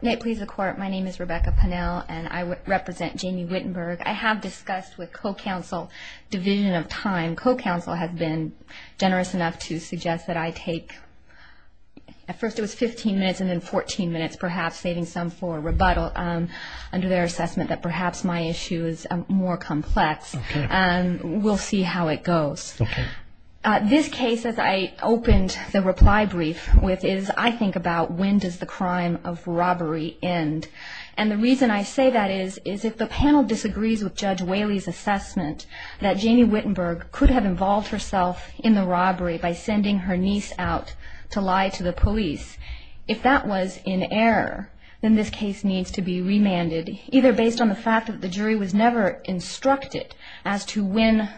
May it please the court, my name is Rebecca Pannell and I represent Jamie Whittenburg. I have discussed with co-counsel division of time. Co-counsel has been generous enough to suggest that I take, at first it was 15 minutes and then 14 minutes, perhaps saving some for rebuttal under their assessment that perhaps my issue is more complex. Okay. We'll see how it goes. Okay. This case, as I opened the reply brief with, is I think about when does the crime of robbery end. And the reason I say that is, is if the panel disagrees with Judge Whaley's assessment that Jamie Whittenburg could have involved herself in the robbery by sending her niece out to lie to the police, if that was in error, then this case needs to be remanded, either based on the fact that the jury was never instructed as to when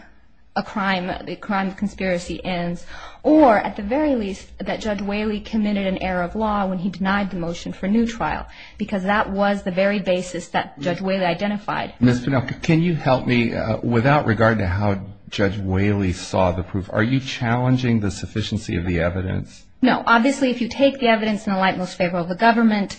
a crime, the crime of conspiracy ends, or at the very least that Judge Whaley committed an error of law when he denied the motion for new trial, because that was the very basis that Judge Whaley identified. Ms. Pannell, can you help me, without regard to how Judge Whaley saw the proof, are you challenging the sufficiency of the evidence? No. Obviously, if you take the evidence in the light most favorable of the government,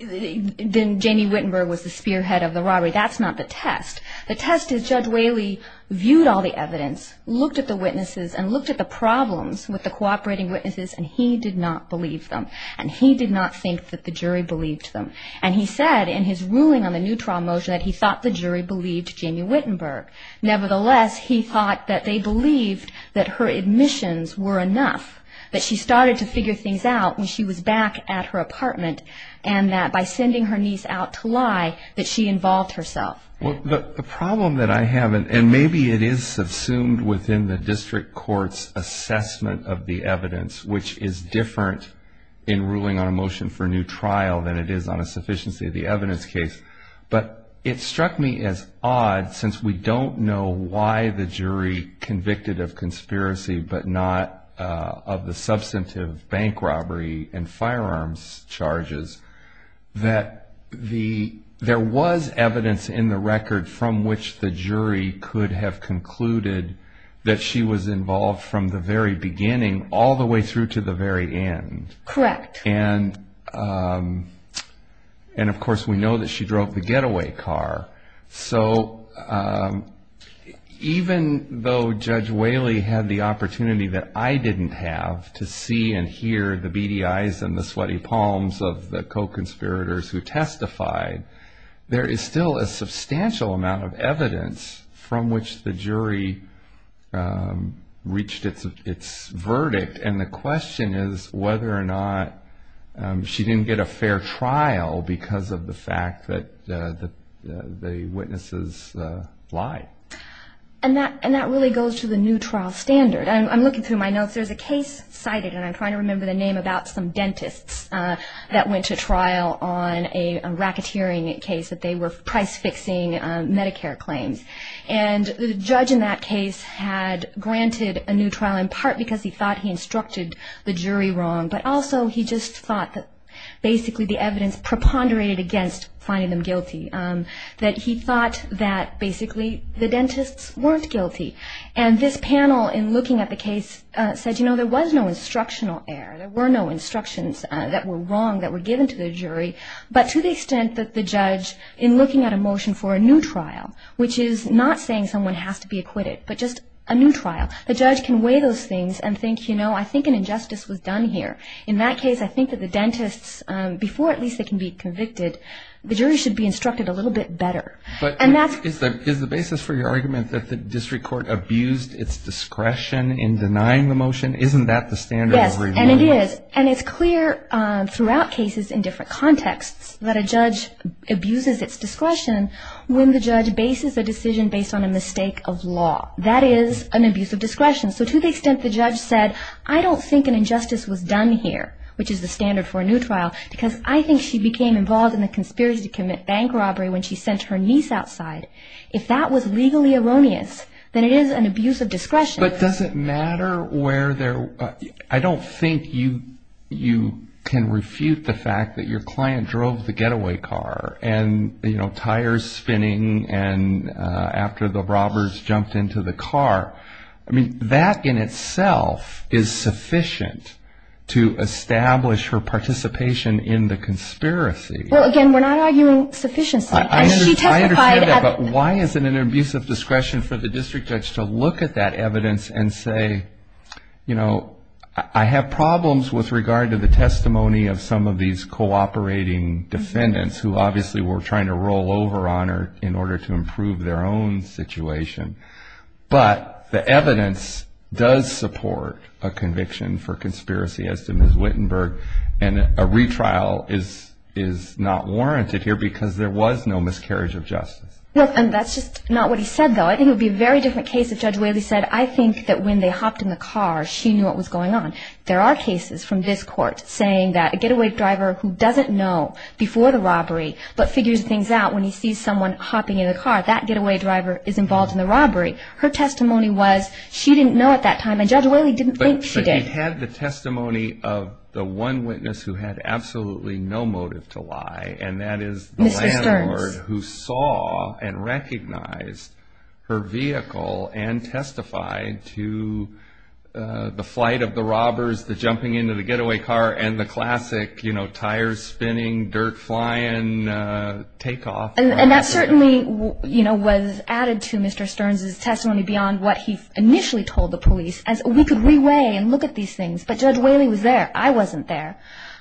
then Jamie Whittenburg was the spearhead of the robbery. That's not the test. The test is Judge Whaley viewed all the evidence, looked at the witnesses, and looked at the problems with the cooperating witnesses, and he did not believe them. And he did not think that the jury believed them. And he said in his ruling on the new trial motion that he thought the jury believed Jamie Whittenburg. Nevertheless, he thought that they believed that her admissions were enough, that she started to figure things out when she was back at her apartment, and that by sending her niece out to lie that she involved herself. The problem that I have, and maybe it is subsumed within the district court's assessment of the evidence, which is different in ruling on a motion for new trial than it is on a sufficiency of the evidence case, but it struck me as odd since we don't know why the jury convicted of conspiracy but not of the substantive bank robbery and firearms charges, that there was evidence in the record from which the jury could have concluded that she was involved from the very beginning all the way through to the very end. Correct. And of course we know that she drove the getaway car. So even though Judge Whaley had the opportunity that I didn't have to see and hear the beady eyes and the sweaty palms of the co-conspirators who testified, there is still a substantial amount of evidence from which the jury reached its verdict. And the question is whether or not she didn't get a fair trial because of the fact that the witnesses lied. And that really goes to the new trial standard. I'm looking through my notes. There's a case cited, and I'm trying to remember the name, about some dentists that went to trial on a racketeering case that they were price-fixing Medicare claims. And the judge in that case had granted a new trial in part because he thought he instructed the jury wrong, but also he just thought that basically the evidence preponderated against finding them guilty, that he thought that basically the dentists weren't guilty. And this panel in looking at the case said, you know, there was no instructional error. There were no instructions that were wrong that were given to the jury. But to the extent that the judge in looking at a motion for a new trial, which is not saying someone has to be acquitted, but just a new trial, the judge can weigh those things and think, you know, I think an injustice was done here. In that case, I think that the dentists, before at least they can be convicted, the jury should be instructed a little bit better. But is the basis for your argument that the district court abused its discretion in denying the motion? Isn't that the standard? Yes, and it is. And it's clear throughout cases in different contexts that a judge abuses its discretion when the judge bases a decision based on a mistake of law. That is an abuse of discretion. So to the extent the judge said, I don't think an injustice was done here, which is the standard for a new trial, because I think she became involved in the conspiracy to commit bank robbery when she sent her niece outside. If that was legally erroneous, then it is an abuse of discretion. But does it matter where they're – I don't think you can refute the fact that your client drove the getaway car and, you know, tires spinning and after the robbers jumped into the car. I mean, that in itself is sufficient to establish her participation in the conspiracy. Well, again, we're not arguing sufficiency. I understand that, but why is it an abuse of discretion for the district judge to look at that evidence and say, you know, I have problems with regard to the testimony of some of these cooperating defendants who obviously were trying to roll over on her in order to improve their own situation. But the evidence does support a conviction for conspiracy, as did Ms. Wittenberg, and a retrial is not warranted here because there was no miscarriage of justice. And that's just not what he said, though. I think it would be a very different case if Judge Whaley said, I think that when they hopped in the car, she knew what was going on. There are cases from this court saying that a getaway driver who doesn't know before the robbery but figures things out when he sees someone hopping in the car, that getaway driver is involved in the robbery. Her testimony was she didn't know at that time, and Judge Whaley didn't think she did. But she had the testimony of the one witness who had absolutely no motive to lie, and that is the landlord who saw and recognized her vehicle and testified to the flight of the robbers, the jumping into the getaway car, and the classic tires spinning, dirt flying, takeoff. And that certainly was added to Mr. Stearns' testimony beyond what he initially told the police, as we could re-weigh and look at these things. But Judge Whaley was there. I wasn't there.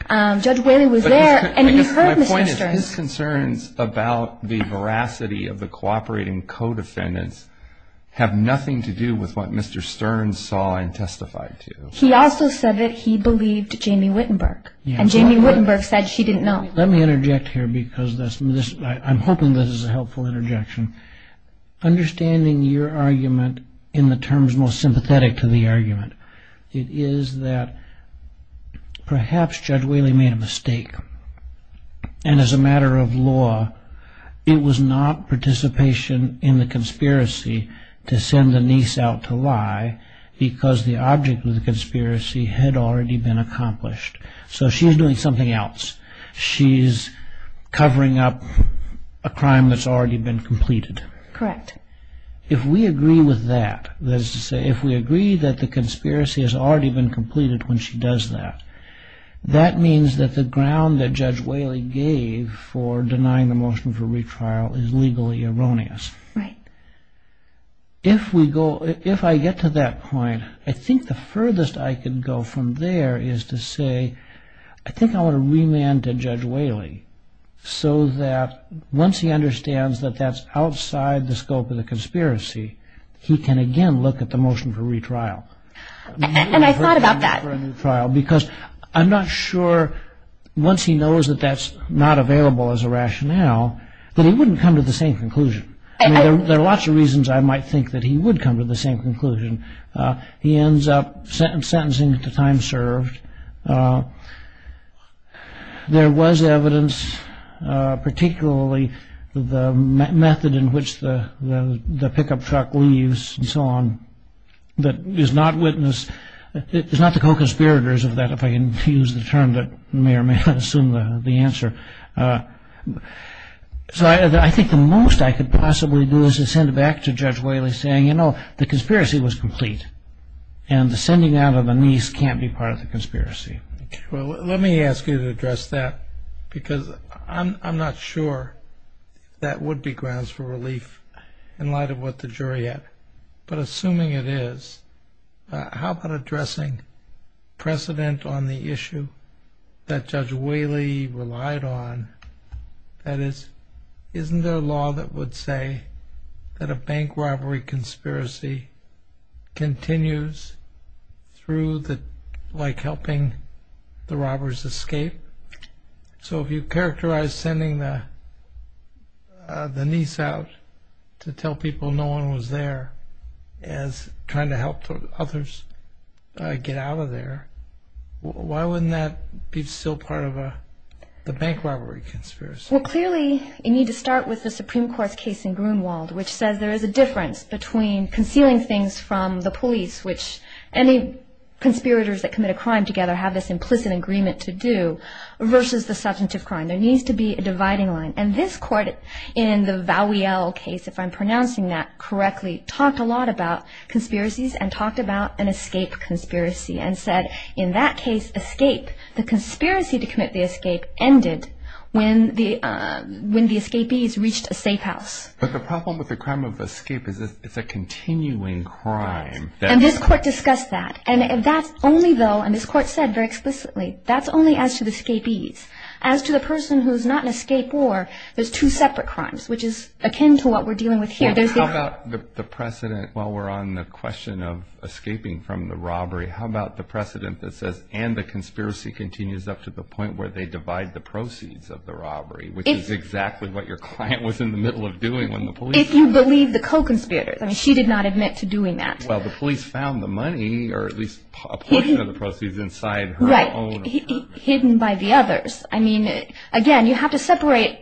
Judge Whaley was there, and he heard Mr. Stearns. His concerns about the veracity of the cooperating co-defendants have nothing to do with what Mr. Stearns saw and testified to. He also said that he believed Jamie Wittenberg, and Jamie Wittenberg said she didn't know. Let me interject here because I'm hoping this is a helpful interjection. Understanding your argument in the terms most sympathetic to the argument, it is that perhaps Judge Whaley made a mistake, and as a matter of law, it was not participation in the conspiracy to send the niece out to lie because the object of the conspiracy had already been accomplished. So she's doing something else. She's covering up a crime that's already been completed. Correct. If we agree with that, that is to say, if we agree that the conspiracy has already been completed when she does that, that means that the ground that Judge Whaley gave for denying the motion for retrial is legally erroneous. Right. If I get to that point, I think the furthest I could go from there is to say, I think I want to remand to Judge Whaley so that once he understands that that's outside the scope of the conspiracy, he can again look at the motion for retrial. And I thought about that. Because I'm not sure, once he knows that that's not available as a rationale, that he wouldn't come to the same conclusion. There are lots of reasons I might think that he would come to the same conclusion. He ends up sentencing to time served. There was evidence, particularly the method in which the pickup truck leaves and so on, that is not the co-conspirators of that, if I can use the term that may or may not assume the answer. So I think the most I could possibly do is to send it back to Judge Whaley saying, you know, the conspiracy was complete. And the sending out of the niece can't be part of the conspiracy. Well, let me ask you to address that. Because I'm not sure that would be grounds for relief in light of what the jury had. But assuming it is, how about addressing precedent on the issue that Judge Whaley relied on? That is, isn't there a law that would say that a bank robbery conspiracy continues through like helping the robbers escape? So if you characterize sending the niece out to tell people no one was there as trying to help others get out of there, why wouldn't that be still part of the bank robbery conspiracy? Well, clearly you need to start with the Supreme Court's case in Grunewald, which says there is a difference between concealing things from the police, which any conspirators that commit a crime together have this implicit agreement to do, versus the substantive crime. There needs to be a dividing line. And this court in the Vowiel case, if I'm pronouncing that correctly, talked a lot about conspiracies and talked about an escape conspiracy and said, in that case, escape. The conspiracy to commit the escape ended when the escapees reached a safe house. But the problem with the crime of escape is it's a continuing crime. And this court discussed that. And that's only, though, and this court said very explicitly, that's only as to the escapees. As to the person who's not an escapee, there's two separate crimes, which is akin to what we're dealing with here. How about the precedent while we're on the question of escaping from the robbery, how about the precedent that says, and the conspiracy continues up to the point where they divide the proceeds of the robbery, which is exactly what your client was in the middle of doing when the police arrived. If you believe the co-conspirators. I mean, she did not admit to doing that. Well, the police found the money or at least a portion of the proceeds inside her own. Right. Hidden by the others. I mean, again, you have to separate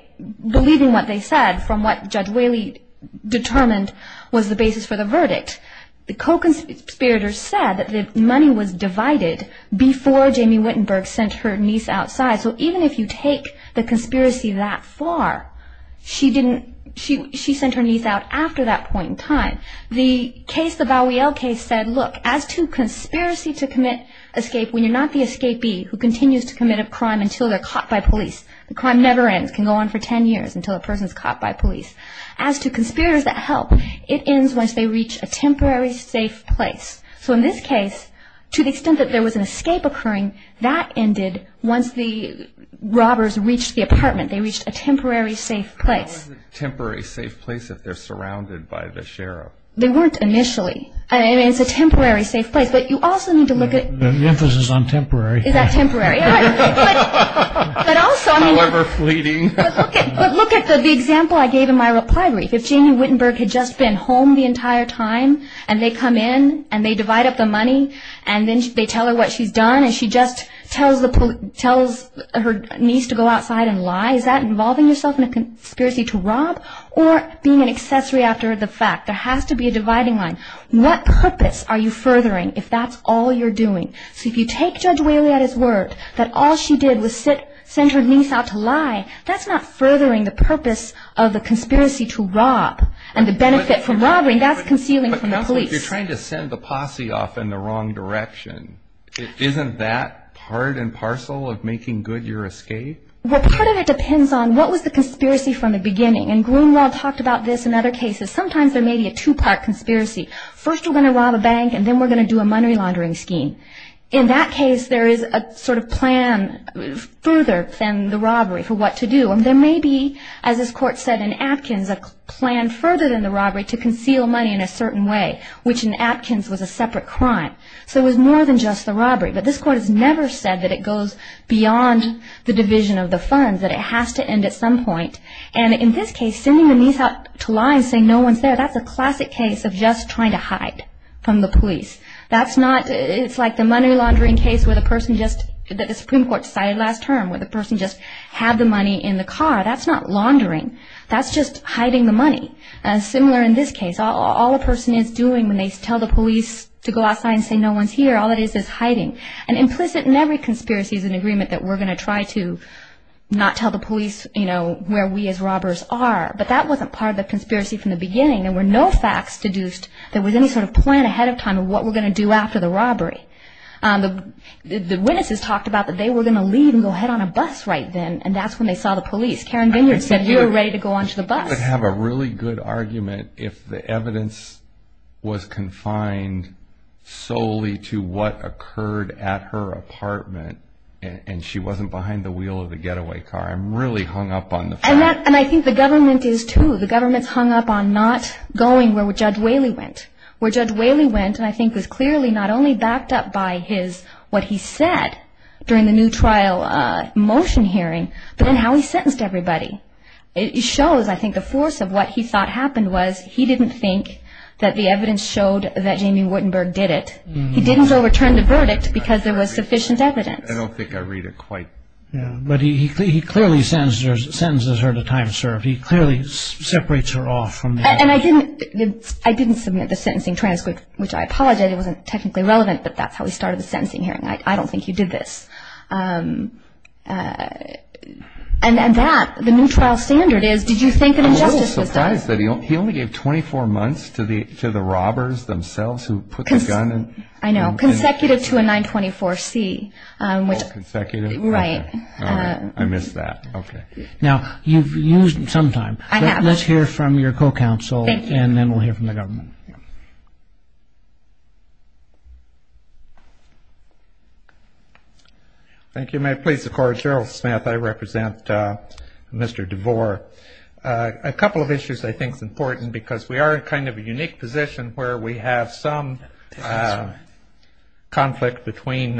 believing what they said from what Judge Whaley determined was the basis for the verdict. The co-conspirators said that the money was divided before Jamie Wittenberg sent her niece outside. So even if you take the conspiracy that far, she didn't, she sent her niece out after that point in time. The case, the Bowiel case said, look, as to conspiracy to commit escape, when you're not the escapee who continues to commit a crime until they're caught by police, the crime never ends, can go on for 10 years until a person's caught by police. As to conspirators that help, it ends once they reach a temporary safe place. So in this case, to the extent that there was an escape occurring, that ended once the robbers reached the apartment. They reached a temporary safe place. How is it a temporary safe place if they're surrounded by the sheriff? They weren't initially. I mean, it's a temporary safe place, but you also need to look at. The emphasis is on temporary. Is that temporary? However fleeting. But look at the example I gave in my reply brief. If Jamie Wittenberg had just been home the entire time and they come in and they divide up the money and then they tell her what she's done and she just tells her niece to go outside and lie, is that involving yourself in a conspiracy to rob or being an accessory after the fact? There has to be a dividing line. What purpose are you furthering if that's all you're doing? So if you take Judge Whaley at his word that all she did was send her niece out to lie, that's not furthering the purpose of the conspiracy to rob and the benefit from robbery. That's concealing from the police. But counsel, if you're trying to send the posse off in the wrong direction, isn't that part and parcel of making good your escape? Well, part of it depends on what was the conspiracy from the beginning. And Grunewald talked about this in other cases. Sometimes there may be a two-part conspiracy. First we're going to rob a bank and then we're going to do a money laundering scheme. In that case, there is a sort of plan further than the robbery for what to do. And there may be, as this court said in Atkins, a plan further than the robbery to conceal money in a certain way, which in Atkins was a separate crime. So it was more than just the robbery. But this court has never said that it goes beyond the division of the funds, that it has to end at some point. And in this case, sending the niece out to lie and saying no one's there, that's a classic case of just trying to hide from the police. It's like the money laundering case that the Supreme Court decided last term, where the person just had the money in the car. That's not laundering. That's just hiding the money. Similar in this case. All a person is doing when they tell the police to go outside and say no one's here, all it is is hiding. And implicit in every conspiracy is an agreement that we're going to try to not tell the police where we as robbers are. But that wasn't part of the conspiracy from the beginning. There were no facts deduced. There was any sort of plan ahead of time of what we're going to do after the robbery. The witnesses talked about that they were going to leave and go head on a bus right then, and that's when they saw the police. Karen Vineyard said you were ready to go onto the bus. I would have a really good argument if the evidence was confined solely to what occurred at her apartment and she wasn't behind the wheel of the getaway car. I'm really hung up on the fact. And I think the government is too. The government's hung up on not going where Judge Whaley went. Where Judge Whaley went, I think, was clearly not only backed up by what he said during the new trial motion hearing, but in how he sentenced everybody. It shows, I think, the force of what he thought happened was he didn't think that the evidence showed that Jamie Wittenberg did it. He didn't overturn the verdict because there was sufficient evidence. I don't think I read it quite. But he clearly sentences her to time served. He clearly separates her off from that. And I didn't submit the sentencing transcript, which I apologize. It wasn't technically relevant, but that's how he started the sentencing hearing. I don't think he did this. And that, the new trial standard is did you think an injustice was done? I was surprised that he only gave 24 months to the robbers themselves who put the gun in. I know. Consecutive to a 924C. All consecutive? Right. All right. I missed that. Okay. Now, you've used some time. I have. Let's hear from your co-counsel. Thank you. And then we'll hear from the government. Thank you. May it please the Court, Gerald Smith. I represent Mr. DeVore. A couple of issues I think is important because we are in kind of a unique position where we have some conflict between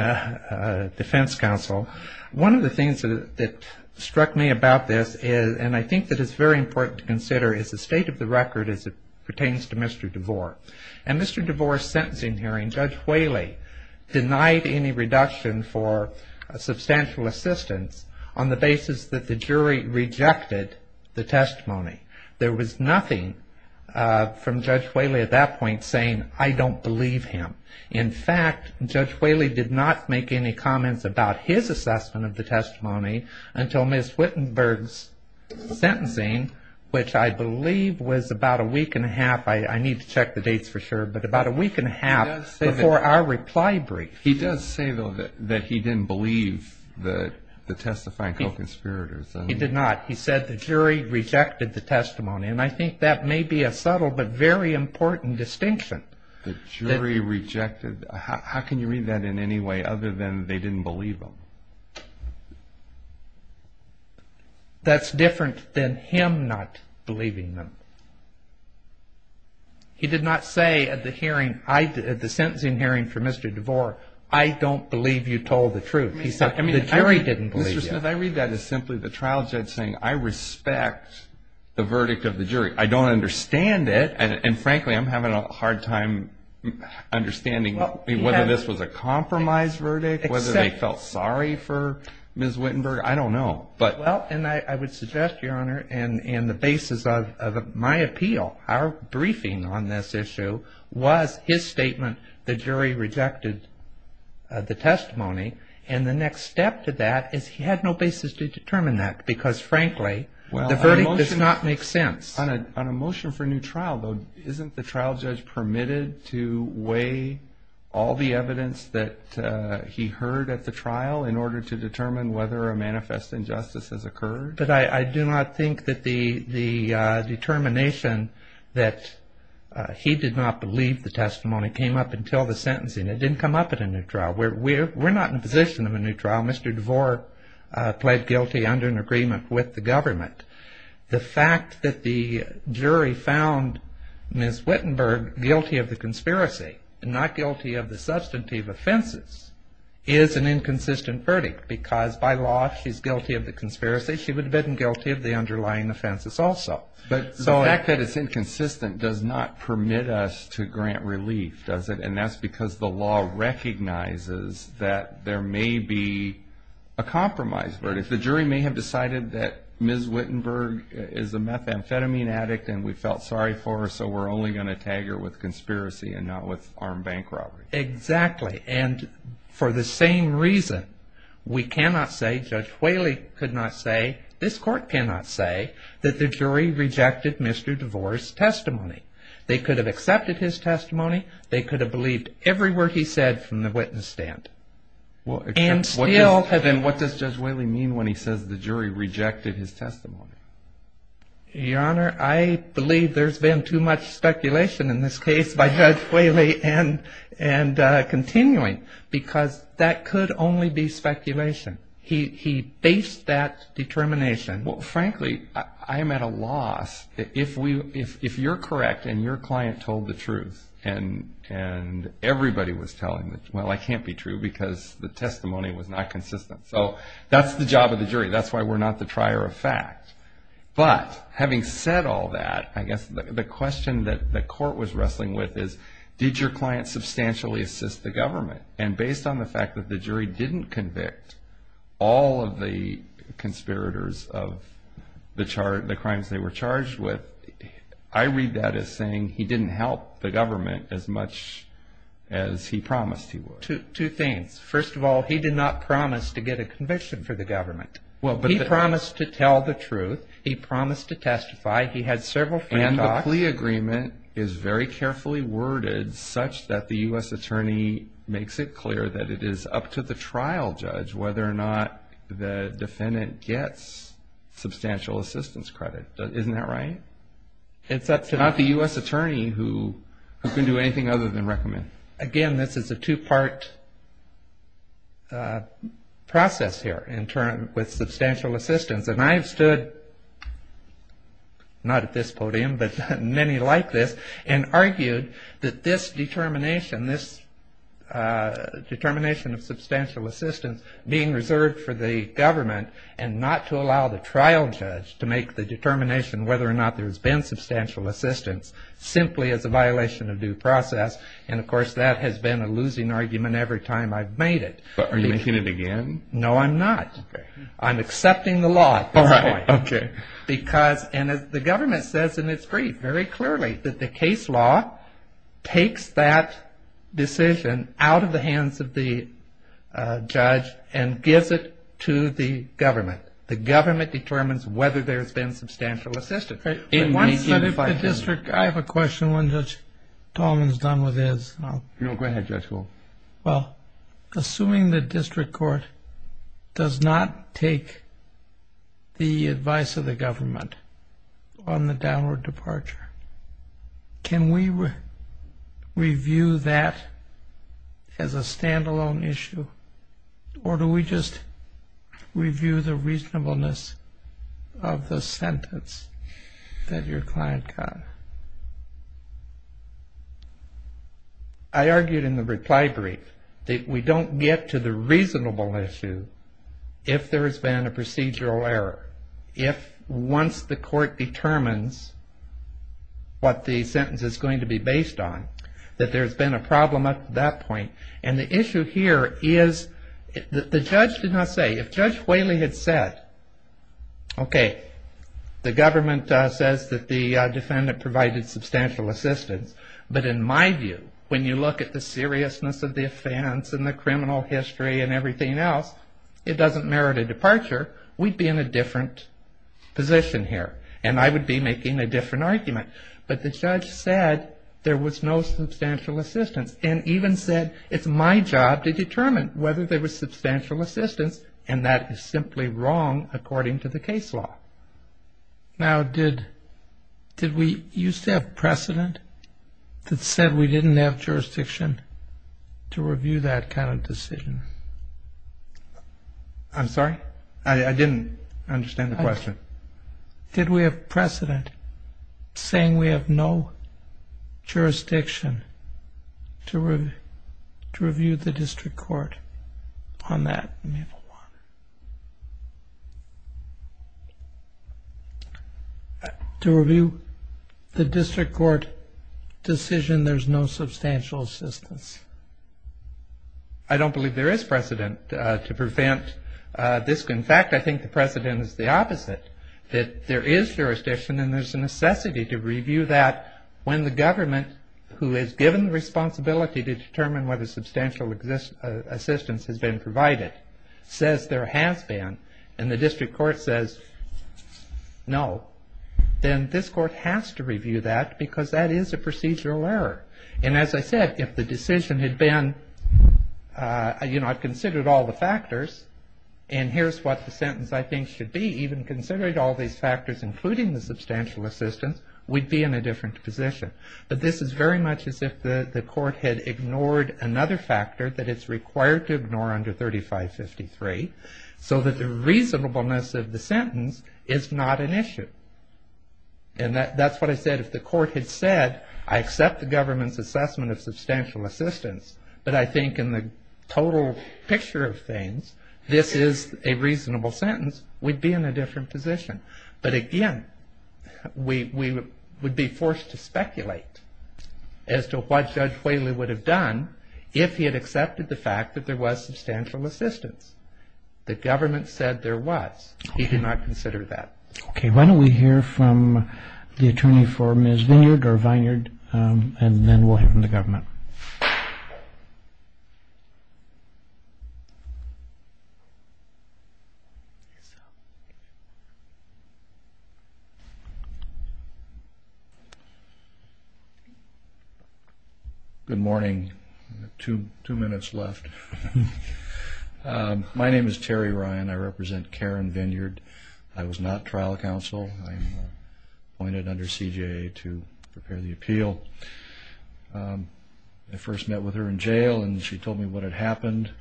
defense counsel. One of the things that struck me about this, and I think that it's very important to consider, is the state of the record as it pertains to Mr. DeVore. In Mr. DeVore's sentencing hearing, Judge Whaley denied any reduction for substantial assistance on the basis that the jury rejected the testimony. There was nothing from Judge Whaley at that point saying, I don't believe him. In fact, Judge Whaley did not make any comments about his assessment of the testimony until Ms. Wittenberg's sentencing, which I believe was about a week and a half. I need to check the dates for sure. But about a week and a half before our reply brief. He does say, though, that he didn't believe the testifying co-conspirators. He did not. He said the jury rejected the testimony. And I think that may be a subtle but very important distinction. The jury rejected. How can you read that in any way other than they didn't believe him? That's different than him not believing them. He did not say at the hearing, at the sentencing hearing for Mr. DeVore, I don't believe you told the truth. He said the jury didn't believe you. Mr. Smith, I read that as simply the trial judge saying, I respect the verdict of the jury. I don't understand it. And frankly, I'm having a hard time understanding whether this was a compromise verdict, whether they felt sorry for Ms. Wittenberg. I don't know. Well, and I would suggest, Your Honor, and the basis of my appeal, our briefing on this issue, was his statement the jury rejected the testimony. And the next step to that is he had no basis to determine that because, frankly, the verdict does not make sense. On a motion for a new trial, though, isn't the trial judge permitted to weigh all the evidence that he heard at the trial in order to determine whether a manifest injustice has occurred? But I do not think that the determination that he did not believe the testimony came up until the sentencing. It didn't come up at a new trial. We're not in a position of a new trial. Mr. DeVore pled guilty under an agreement with the government. The fact that the jury found Ms. Wittenberg guilty of the conspiracy and not guilty of the substantive offenses is an inconsistent verdict because, by law, if she's guilty of the conspiracy, she would have been guilty of the underlying offenses also. But the fact that it's inconsistent does not permit us to grant relief, does it? And that's because the law recognizes that there may be a compromise verdict. If the jury may have decided that Ms. Wittenberg is a methamphetamine addict and we felt sorry for her, so we're only going to tag her with conspiracy and not with armed bank robbery. Exactly. And for the same reason, we cannot say, Judge Whaley could not say, this Court cannot say that the jury rejected Mr. DeVore's testimony. They could have accepted his testimony. They could have believed every word he said from the witness stand. And what does Judge Whaley mean when he says the jury rejected his testimony? Your Honor, I believe there's been too much speculation in this case by Judge Whaley and continuing, because that could only be speculation. He based that determination. Well, frankly, I'm at a loss. If you're correct and your client told the truth and everybody was telling, well, I can't be true because the testimony was not consistent. So that's the job of the jury. That's why we're not the trier of fact. But having said all that, I guess the question that the Court was wrestling with is, did your client substantially assist the government? And based on the fact that the jury didn't convict all of the conspirators of the crimes they were charged with, I read that as saying he didn't help the government as much as he promised he would. Two things. First of all, he did not promise to get a conviction for the government. He promised to tell the truth. He promised to testify. He had several free talks. And the plea agreement is very carefully worded such that the U.S. attorney makes it clear that it is up to the trial judge whether or not the defendant gets substantial assistance credit. Isn't that right? It's up to not the U.S. attorney who can do anything other than recommend. Again, this is a two-part process here with substantial assistance. And I have stood, not at this podium, but many like this, and argued that this determination, this determination of substantial assistance being reserved for the government and not to allow the trial judge to make the determination whether or not there's been substantial assistance simply as a violation of due process. And, of course, that has been a losing argument every time I've made it. But are you making it again? No, I'm not. I'm accepting the law at this point. All right. Okay. Because, and as the government says in its brief very clearly, that the case law takes that decision out of the hands of the judge and gives it to the government. The government determines whether there's been substantial assistance. I have a question when Judge Tolman is done with his. No, go ahead, Judge Gould. Well, assuming the district court does not take the advice of the government on the downward departure, can we review that as a standalone issue? Or do we just review the reasonableness of the sentence that your client got? I argued in the reply brief that we don't get to the reasonable issue if there has been a procedural error. If once the court determines what the sentence is going to be based on, that there's been a problem up to that point. And the issue here is that the judge did not say, if Judge Whaley had said, Okay. The government says that the defendant provided substantial assistance. But in my view, when you look at the seriousness of the offense and the criminal history and everything else, it doesn't merit a departure. We'd be in a different position here. And I would be making a different argument. But the judge said there was no substantial assistance. And even said it's my job to determine whether there was substantial assistance. And that is simply wrong according to the case law. Now, did we used to have precedent that said we didn't have jurisdiction to review that kind of decision? I'm sorry? I didn't understand the question. Did we have precedent saying we have no jurisdiction to review the district court on that? To review the district court decision, there's no substantial assistance. I don't believe there is precedent to prevent this. In fact, I think the precedent is the opposite, that there is jurisdiction. And there's a necessity to review that when the government, who is given the responsibility to determine whether substantial assistance has been provided, says there has been and the district court says no, then this court has to review that because that is a procedural error. And as I said, if the decision had been, you know, I've considered all the factors. And here's what the sentence I think should be. Even considering all these factors including the substantial assistance, we'd be in a different position. But this is very much as if the court had ignored another factor that it's required to ignore under 3553 so that the reasonableness of the sentence is not an issue. And that's what I said. If the court had said I accept the government's assessment of substantial assistance, but I think in the total picture of things, this is a reasonable sentence, we'd be in a different position. But again, we would be forced to speculate as to what Judge Whaley would have done if he had accepted the fact that there was substantial assistance. The government said there was. He did not consider that. Okay, why don't we hear from the attorney for Ms. Vineyard and then we'll hear from the government. Good morning. Two minutes left. My name is Terry Ryan. I represent Karen Vineyard. I was not trial counsel. I'm appointed under CJA to prepare the appeal. I first met with her in jail, and she told me what had happened.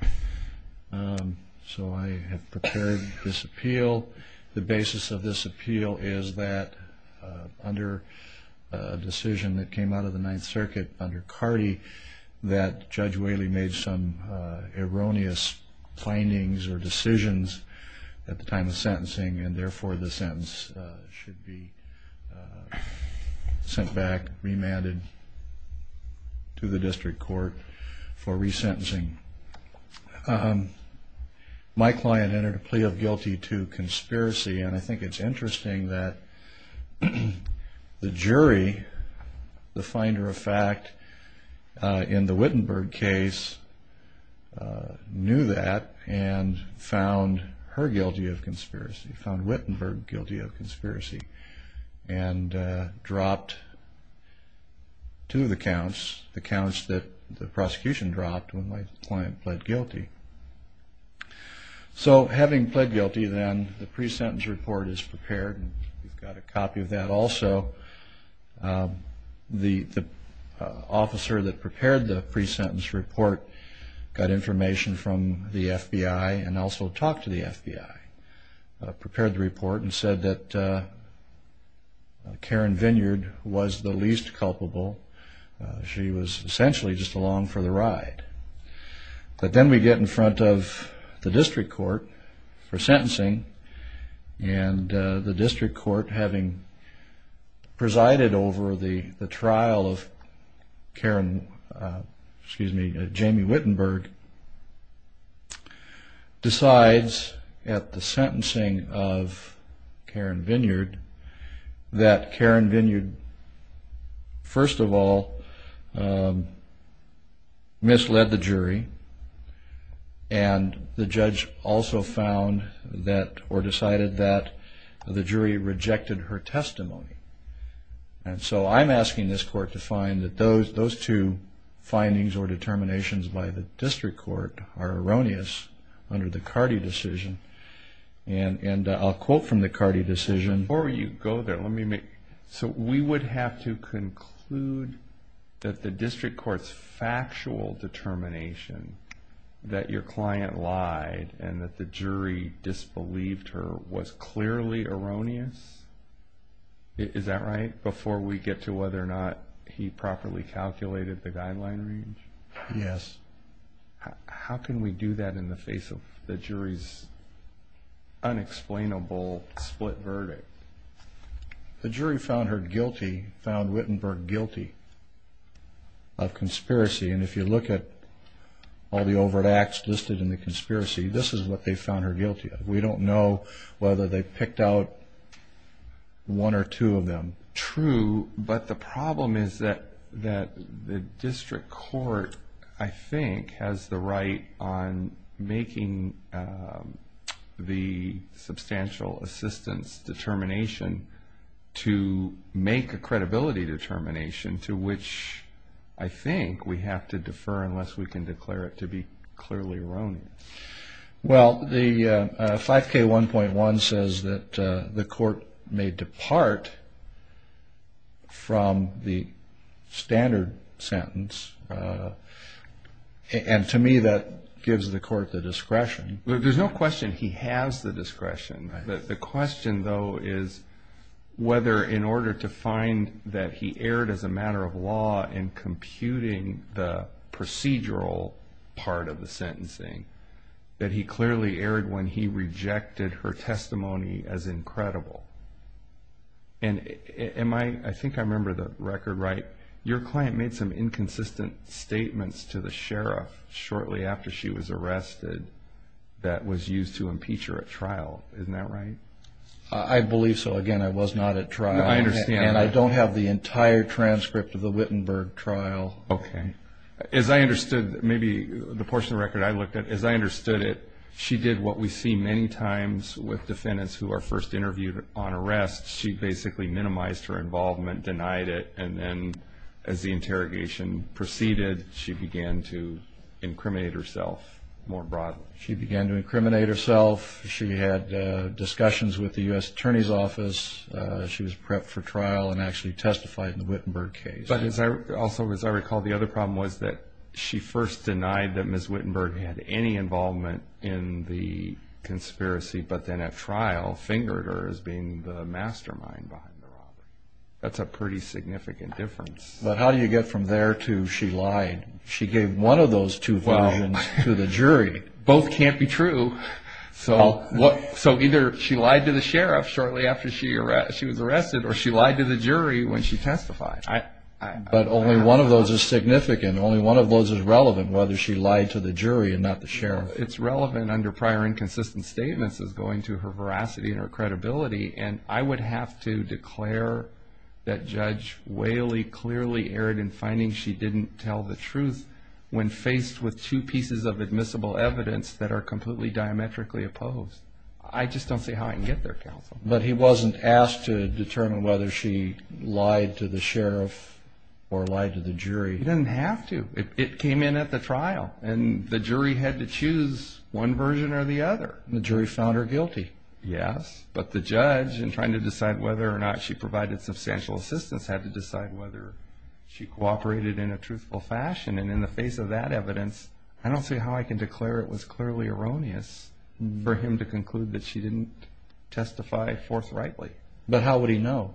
So I have prepared this appeal. The basis of this appeal is that under a decision that came out of the Ninth Circuit under Cardi that Judge Whaley made some erroneous findings or decisions at the time of sentencing, and therefore this sentence should be sent back, remanded to the district court for resentencing. My client entered a plea of guilty to conspiracy, and I think it's interesting that the jury, the finder of fact, in the Wittenberg case knew that and found her guilty of conspiracy, found Wittenberg guilty of conspiracy, and dropped to the counts the counts that the prosecution dropped when my client pled guilty. So having pled guilty, then, the pre-sentence report is prepared, and we've got a copy of that also. The officer that prepared the pre-sentence report got information from the FBI and also talked to the FBI, prepared the report, and said that Karen Vineyard was the least culpable. She was essentially just along for the ride. But then we get in front of the district court for sentencing, and the district court, having presided over the trial of Karen, excuse me, Jamie Wittenberg, decides at the sentencing of Karen Vineyard that Karen Vineyard, first of all, misled the jury, and the judge also found that or decided that the jury rejected her testimony. And so I'm asking this court to find that those two findings or determinations by the district court are erroneous under the Cardi decision, and I'll quote from the Cardi decision. Before you go there, let me make... So we would have to conclude that the district court's factual determination that your client lied and that the jury disbelieved her was clearly erroneous? Is that right? Before we get to whether or not he properly calculated the guideline range? Yes. How can we do that in the face of the jury's unexplainable split verdict? The jury found her guilty, found Wittenberg guilty of conspiracy, and if you look at all the overt acts listed in the conspiracy, this is what they found her guilty of. We don't know whether they picked out one or two of them. True, but the problem is that the district court, I think, has the right on making the substantial assistance determination to make a credibility determination to which I think we have to defer unless we can declare it to be clearly erroneous. Well, the 5K1.1 says that the court may depart from the standard sentence, and to me that gives the court the discretion. There's no question he has the discretion. The question, though, is whether in order to find that he erred as a matter of law in computing the procedural part of the sentencing, that he clearly erred when he rejected her testimony as incredible. And I think I remember the record right. Your client made some inconsistent statements to the sheriff shortly after she was arrested that was used to impeach her at trial. Isn't that right? I believe so. Again, I was not at trial. I understand that. I have the entire transcript of the Wittenberg trial. Okay. As I understood, maybe the portion of the record I looked at, as I understood it, she did what we see many times with defendants who are first interviewed on arrest. She basically minimized her involvement, denied it, and then as the interrogation proceeded, she began to incriminate herself more broadly. She began to incriminate herself. She had discussions with the U.S. Attorney's Office. She was prepped for trial and actually testified in the Wittenberg case. But also, as I recall, the other problem was that she first denied that Ms. Wittenberg had any involvement in the conspiracy, but then at trial fingered her as being the mastermind behind the robbery. That's a pretty significant difference. But how do you get from there to she lied? She gave one of those two versions to the jury. Well, both can't be true. So either she lied to the sheriff shortly after she was arrested or she lied to the jury when she testified. But only one of those is significant. Only one of those is relevant, whether she lied to the jury and not the sheriff. It's relevant under prior inconsistent statements as going to her veracity and her credibility, and I would have to declare that Judge Whaley clearly erred in finding she didn't tell the truth when faced with two pieces of admissible evidence that are completely diametrically opposed. I just don't see how I can get there, counsel. But he wasn't asked to determine whether she lied to the sheriff or lied to the jury. He didn't have to. It came in at the trial, and the jury had to choose one version or the other. And the jury found her guilty. Yes, but the judge, in trying to decide whether or not she provided substantial assistance, had to decide whether she cooperated in a truthful fashion. And in the face of that evidence, I don't see how I can declare it was clearly erroneous for him to conclude that she didn't testify forthrightly. But how would he know?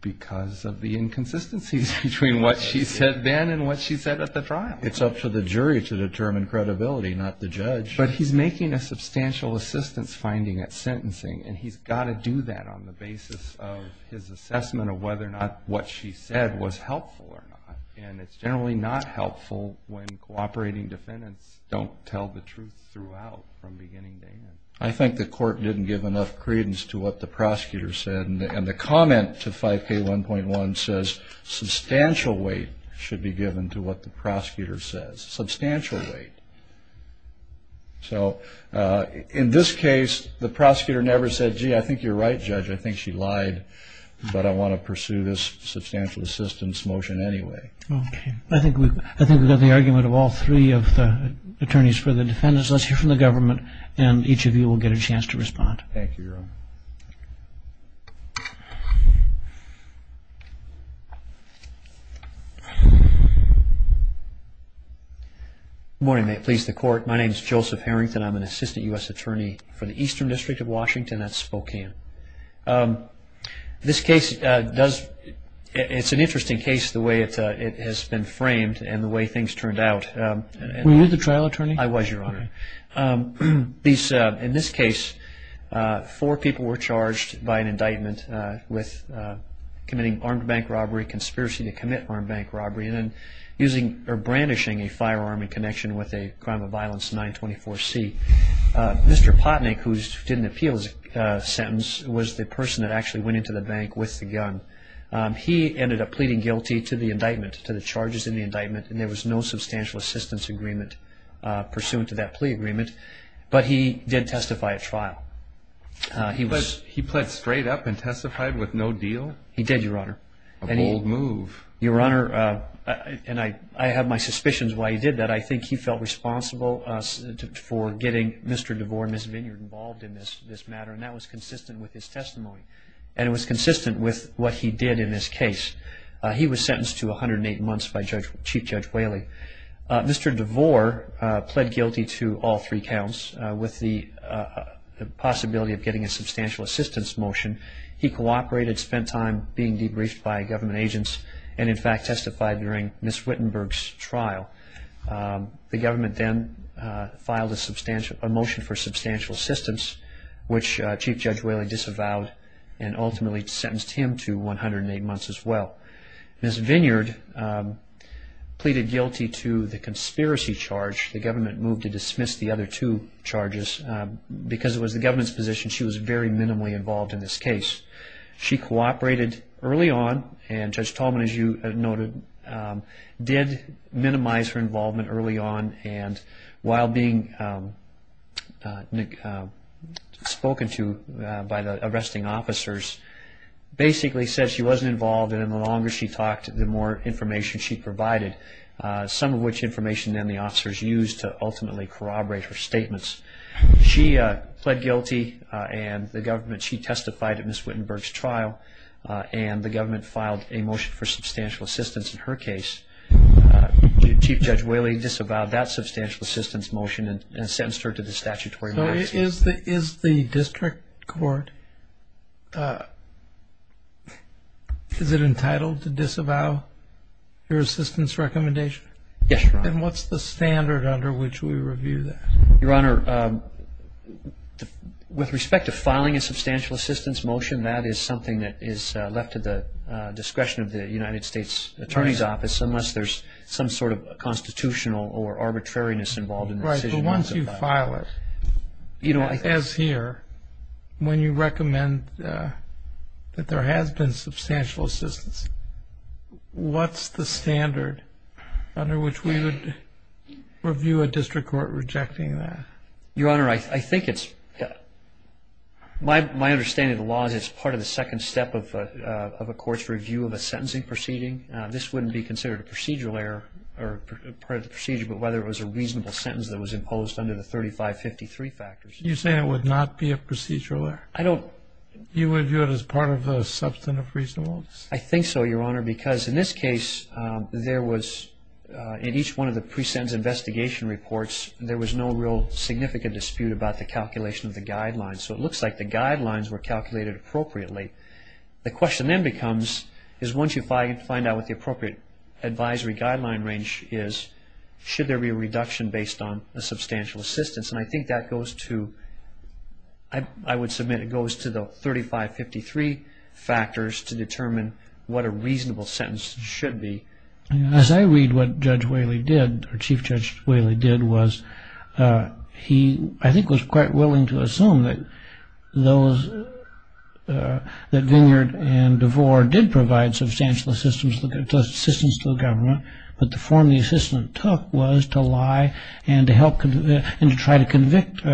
Because of the inconsistencies between what she said then and what she said at the trial. It's up to the jury to determine credibility, not the judge. But he's making a substantial assistance finding at sentencing, and he's got to do that on the basis of his assessment of whether or not what she said was helpful or not. And it's generally not helpful when cooperating defendants don't tell the truth throughout from beginning to end. I think the court didn't give enough credence to what the prosecutor said. And the comment to 5K1.1 says substantial weight should be given to what the prosecutor says. Substantial weight. So in this case, the prosecutor never said, gee, I think you're right, Judge, I think she lied, but I want to pursue this substantial assistance motion anyway. Okay. I think we've got the argument of all three of the attorneys for the defendants. Let's hear from the government, and each of you will get a chance to respond. Thank you, Your Honor. Good morning. May it please the Court. My name is Joseph Harrington. I'm an assistant U.S. attorney for the Eastern District of Washington. That's Spokane. This case, it's an interesting case the way it has been framed and the way things turned out. Were you the trial attorney? I was, Your Honor. In this case, four people were charged by an indictment with committing armed bank robbery, conspiracy to commit armed bank robbery, and then brandishing a firearm in connection with a crime of violence 924C. Mr. Potnik, who did an appeals sentence, was the person that actually went into the bank with the gun. He ended up pleading guilty to the indictment, to the charges in the indictment, and there was no substantial assistance agreement pursuant to that plea agreement. But he did testify at trial. He pled straight up and testified with no deal? He did, Your Honor. A bold move. Your Honor, and I have my suspicions why he did that. I think he felt responsible for getting Mr. DeVore and Ms. Vineyard involved in this matter, and that was consistent with his testimony, and it was consistent with what he did in this case. He was sentenced to 108 months by Chief Judge Whaley. Mr. DeVore pled guilty to all three counts with the possibility of getting a substantial assistance motion. He cooperated, spent time being debriefed by government agents, and in fact testified during Ms. Wittenberg's trial. The government then filed a motion for substantial assistance, which Chief Judge Whaley disavowed and ultimately sentenced him to 108 months as well. Ms. Vineyard pleaded guilty to the conspiracy charge. The government moved to dismiss the other two charges. Because it was the government's position, she was very minimally involved in this case. She cooperated early on, and Judge Tolman, as you noted, did minimize her involvement early on, and while being spoken to by the arresting officers, basically said she wasn't involved, and the longer she talked, the more information she provided, some of which information then the officers used to ultimately corroborate her statements. She pled guilty, and she testified at Ms. Wittenberg's trial, and the government filed a motion for substantial assistance in her case. Chief Judge Whaley disavowed that substantial assistance motion and sentenced her to the statutory maximum. Is the district court, is it entitled to disavow your assistance recommendation? Yes, Your Honor. And what's the standard under which we review that? Your Honor, with respect to filing a substantial assistance motion, that is something that is left to the discretion of the United States Attorney's Office unless there's some sort of constitutional or arbitrariness involved in the decision. Once you file it, as here, when you recommend that there has been substantial assistance, what's the standard under which we would review a district court rejecting that? Your Honor, I think it's, my understanding of the law is it's part of the second step of a court's review of a sentencing proceeding. This wouldn't be considered a procedural error or part of the procedure, but whether it was a reasonable sentence that was imposed under the 3553 factors. You're saying it would not be a procedural error? I don't. You would view it as part of the substantive reasonableness? I think so, Your Honor, because in this case, there was, in each one of the pre-sentence investigation reports, there was no real significant dispute about the calculation of the guidelines. So it looks like the guidelines were calculated appropriately. The question then becomes, is once you find out what the appropriate advisory guideline range is, should there be a reduction based on a substantial assistance? And I think that goes to, I would submit it goes to the 3553 factors to determine what a reasonable sentence should be. As I read what Judge Whaley did, or Chief Judge Whaley did, he, I think, was quite willing to assume that Vineyard and DeVore did provide substantial assistance to the government, but the form the assistance took was to lie and to try to convict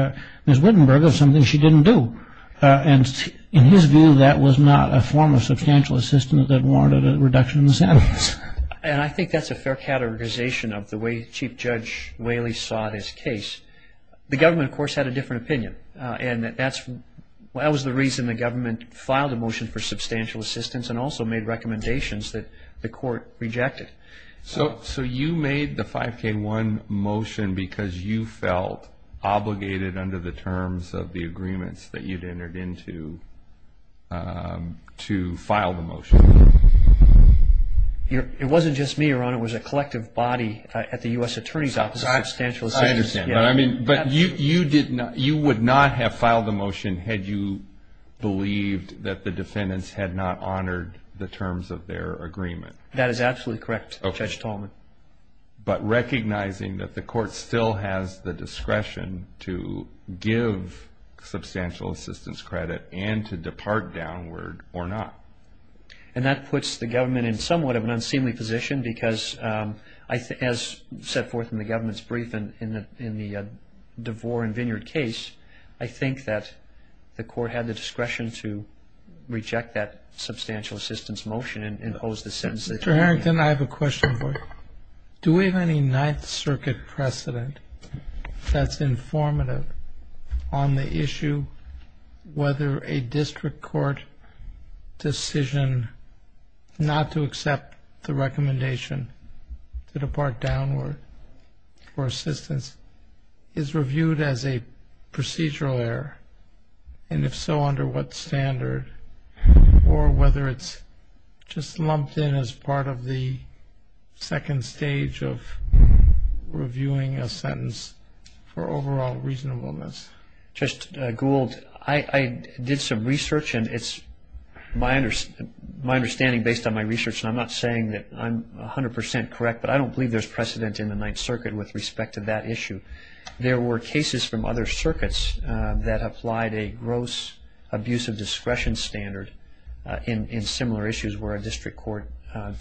Ms. Wittenberg of something she didn't do. And in his view, that was not a form of substantial assistance that warranted a reduction in the sentence. And I think that's a fair categorization of the way Chief Judge Whaley saw his case. The government, of course, had a different opinion, and that was the reason the government filed a motion for substantial assistance and also made recommendations that the court rejected. So you made the 5K1 motion because you felt obligated under the terms of the agreements that you'd entered into to file the motion? It wasn't just me, Your Honor. It was a collective body at the U.S. Attorney's Office. I understand. But you would not have filed the motion had you believed that the defendants had not honored the terms of their agreement. That is absolutely correct, Judge Tallman. But recognizing that the court still has the discretion to give substantial assistance credit and to depart downward or not. And that puts the government in somewhat of an unseemly position because, as set forth in the government's briefing in the DeVore and Vineyard case, I think that the court had the discretion to reject that substantial assistance motion and impose the sentence. Mr. Harrington, I have a question for you. Do we have any Ninth Circuit precedent that's informative on the issue whether a district court decision not to accept the recommendation to depart downward for assistance is reviewed as a procedural error? And if so, under what standard? Or whether it's just lumped in as part of the second stage of reviewing a sentence for overall reasonableness? Judge Gould, I did some research, and it's my understanding based on my research, and I'm not saying that I'm 100 percent correct, but I don't believe there's precedent in the Ninth Circuit with respect to that issue. There were cases from other circuits that applied a gross abuse of discretion standard in similar issues where a district court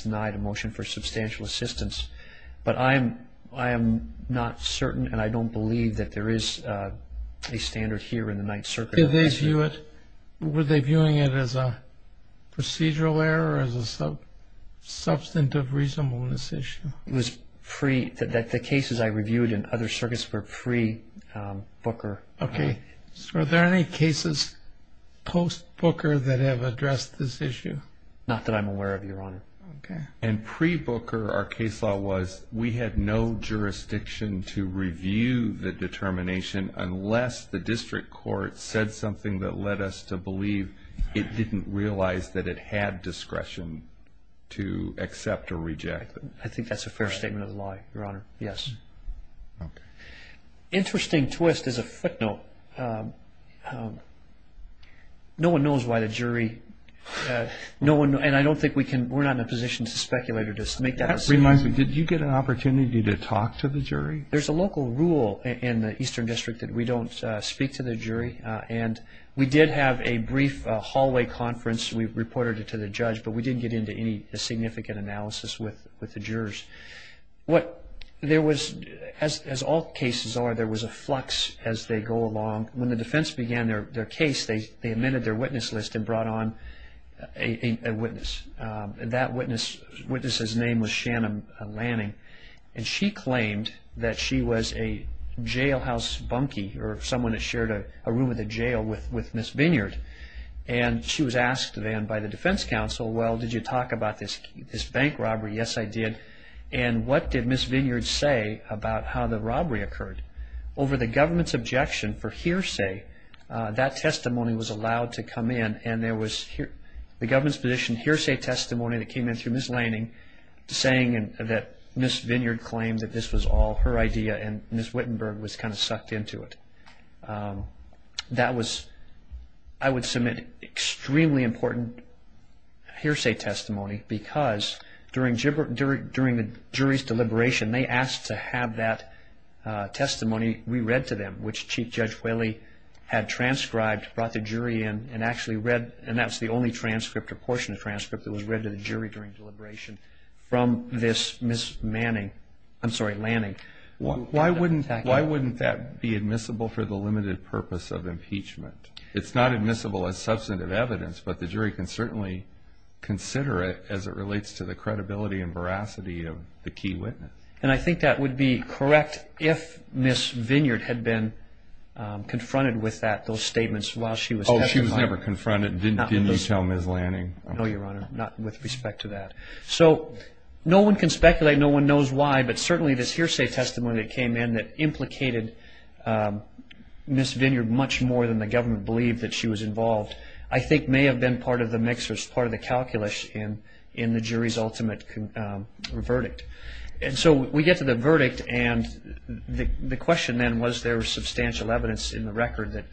denied a motion for substantial assistance. But I am not certain and I don't believe that there is a standard here in the Ninth Circuit. Were they viewing it as a procedural error or as a substantive reasonableness issue? The cases I reviewed in other circuits were pre-Booker. Okay. So are there any cases post-Booker that have addressed this issue? Not that I'm aware of, Your Honor. And pre-Booker, our case law was we had no jurisdiction to review the determination unless the district court said something that led us to believe it didn't realize that it had discretion to accept or reject it. I think that's a fair statement of the law, Your Honor. Yes. Okay. Interesting twist as a footnote, no one knows why the jury, no one, and I don't think we can, we're not in a position to speculate or just make that assumption. That reminds me, did you get an opportunity to talk to the jury? There's a local rule in the Eastern District that we don't speak to the jury, and we did have a brief hallway conference. We reported it to the judge, but we didn't get into any significant analysis with the jurors. What there was, as all cases are, there was a flux as they go along. When the defense began their case, they amended their witness list and brought on a witness. That witness's name was Shannon Lanning, and she claimed that she was a jailhouse bunkie or someone that shared a room in the jail with Ms. Vineyard. She was asked then by the defense counsel, well, did you talk about this bank robbery? Yes, I did. What did Ms. Vineyard say about how the robbery occurred? Over the government's objection for hearsay, that testimony was allowed to come in, and there was the government's position hearsay testimony that came in through Ms. Lanning saying that Ms. Vineyard claimed that this was all her idea, and Ms. Wittenberg was kind of sucked into it. That was, I would submit, extremely important hearsay testimony because during the jury's deliberation, they asked to have that testimony re-read to them, which Chief Judge Whaley had transcribed, brought the jury in, and actually read, and that was the only transcript or portion of the transcript that was read to the jury during deliberation, from this Ms. Manning, I'm sorry, Lanning. Why wouldn't that be admissible for the limited purpose of impeachment? It's not admissible as substantive evidence, but the jury can certainly consider it as it relates to the credibility and veracity of the key witness. And I think that would be correct if Ms. Vineyard had been confronted with those statements while she was- But she was never confronted, did you tell Ms. Lanning? No, Your Honor, not with respect to that. So no one can speculate, no one knows why, but certainly this hearsay testimony that came in that implicated Ms. Vineyard much more than the government believed that she was involved, I think may have been part of the mix or part of the calculus in the jury's ultimate verdict. And so we get to the verdict, and the question then, was there substantial evidence in the record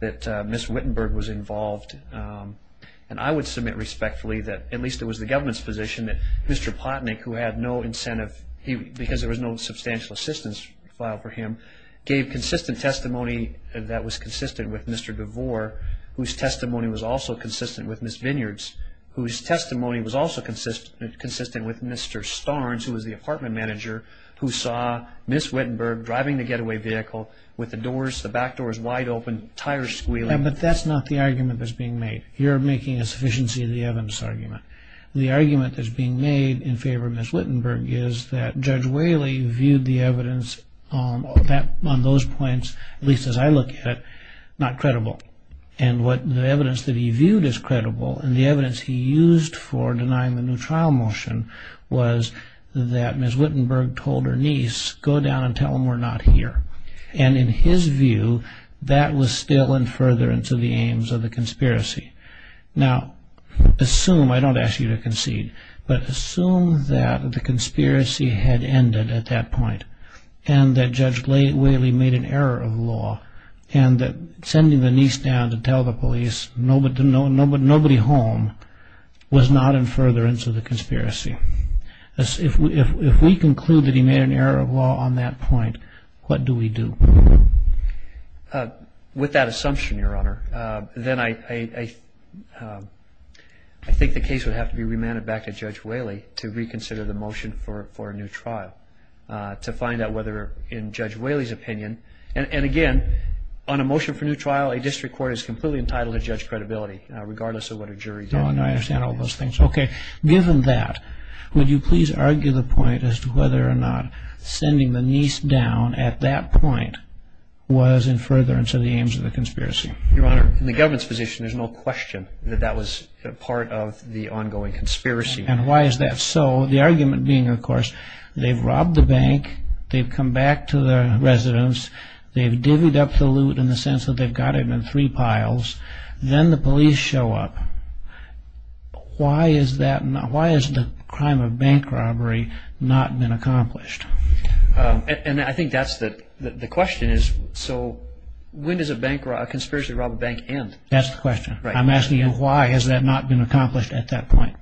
that Ms. Wittenberg was involved? And I would submit respectfully that, at least it was the government's position, that Mr. Potnik, who had no incentive, because there was no substantial assistance filed for him, gave consistent testimony that was consistent with Mr. DeVore, whose testimony was also consistent with Ms. Vineyard's, whose testimony was also consistent with Mr. Starnes, who was the apartment manager, who saw Ms. Wittenberg driving the getaway vehicle with the back doors wide open, tires squealing. But that's not the argument that's being made. You're making a sufficiency of the evidence argument. The argument that's being made in favor of Ms. Wittenberg is that Judge Whaley viewed the evidence on those points, at least as I look at it, not credible. And the evidence that he viewed as credible, and the evidence he used for denying the new trial motion, was that Ms. Wittenberg told her niece, go down and tell them we're not here. And in his view, that was still in furtherance of the aims of the conspiracy. Now, assume, I don't ask you to concede, but assume that the conspiracy had ended at that point, and that Judge Whaley made an error of law, and that sending the niece down to tell the police nobody home was not in furtherance of the conspiracy. If we conclude that he made an error of law on that point, what do we do? With that assumption, Your Honor, then I think the case would have to be remanded back to Judge Whaley to reconsider the motion for a new trial, to find out whether, in Judge Whaley's opinion, and again, on a motion for new trial, a district court is completely entitled to judge credibility, regardless of what a jury did. Oh, I understand all those things. Okay. Given that, would you please argue the point as to whether or not sending the niece down at that point was in furtherance of the aims of the conspiracy? Your Honor, in the government's position, there's no question that that was part of the ongoing conspiracy. And why is that so? The argument being, of course, they've robbed the bank, they've come back to the residence, they've divvied up the loot in the sense that they've got it in three piles, then the police show up. Why has the crime of bank robbery not been accomplished? And I think that's the question is, so when does a conspiracy to rob a bank end? That's the question. I'm asking you, why has that not been accomplished at that point?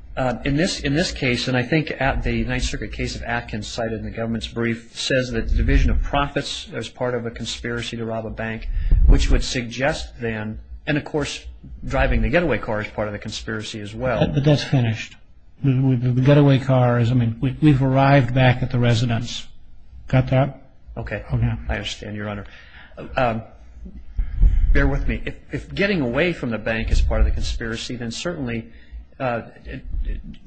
In this case, and I think the Ninth Circuit case of Atkins cited in the government's brief, says that the division of profits is part of a conspiracy to rob a bank, which would suggest then, and of course, driving the getaway car is part of the conspiracy as well. But that's finished. The getaway car is, I mean, we've arrived back at the residence. Got that? Okay. I understand, Your Honor. Bear with me. If getting away from the bank is part of the conspiracy, then certainly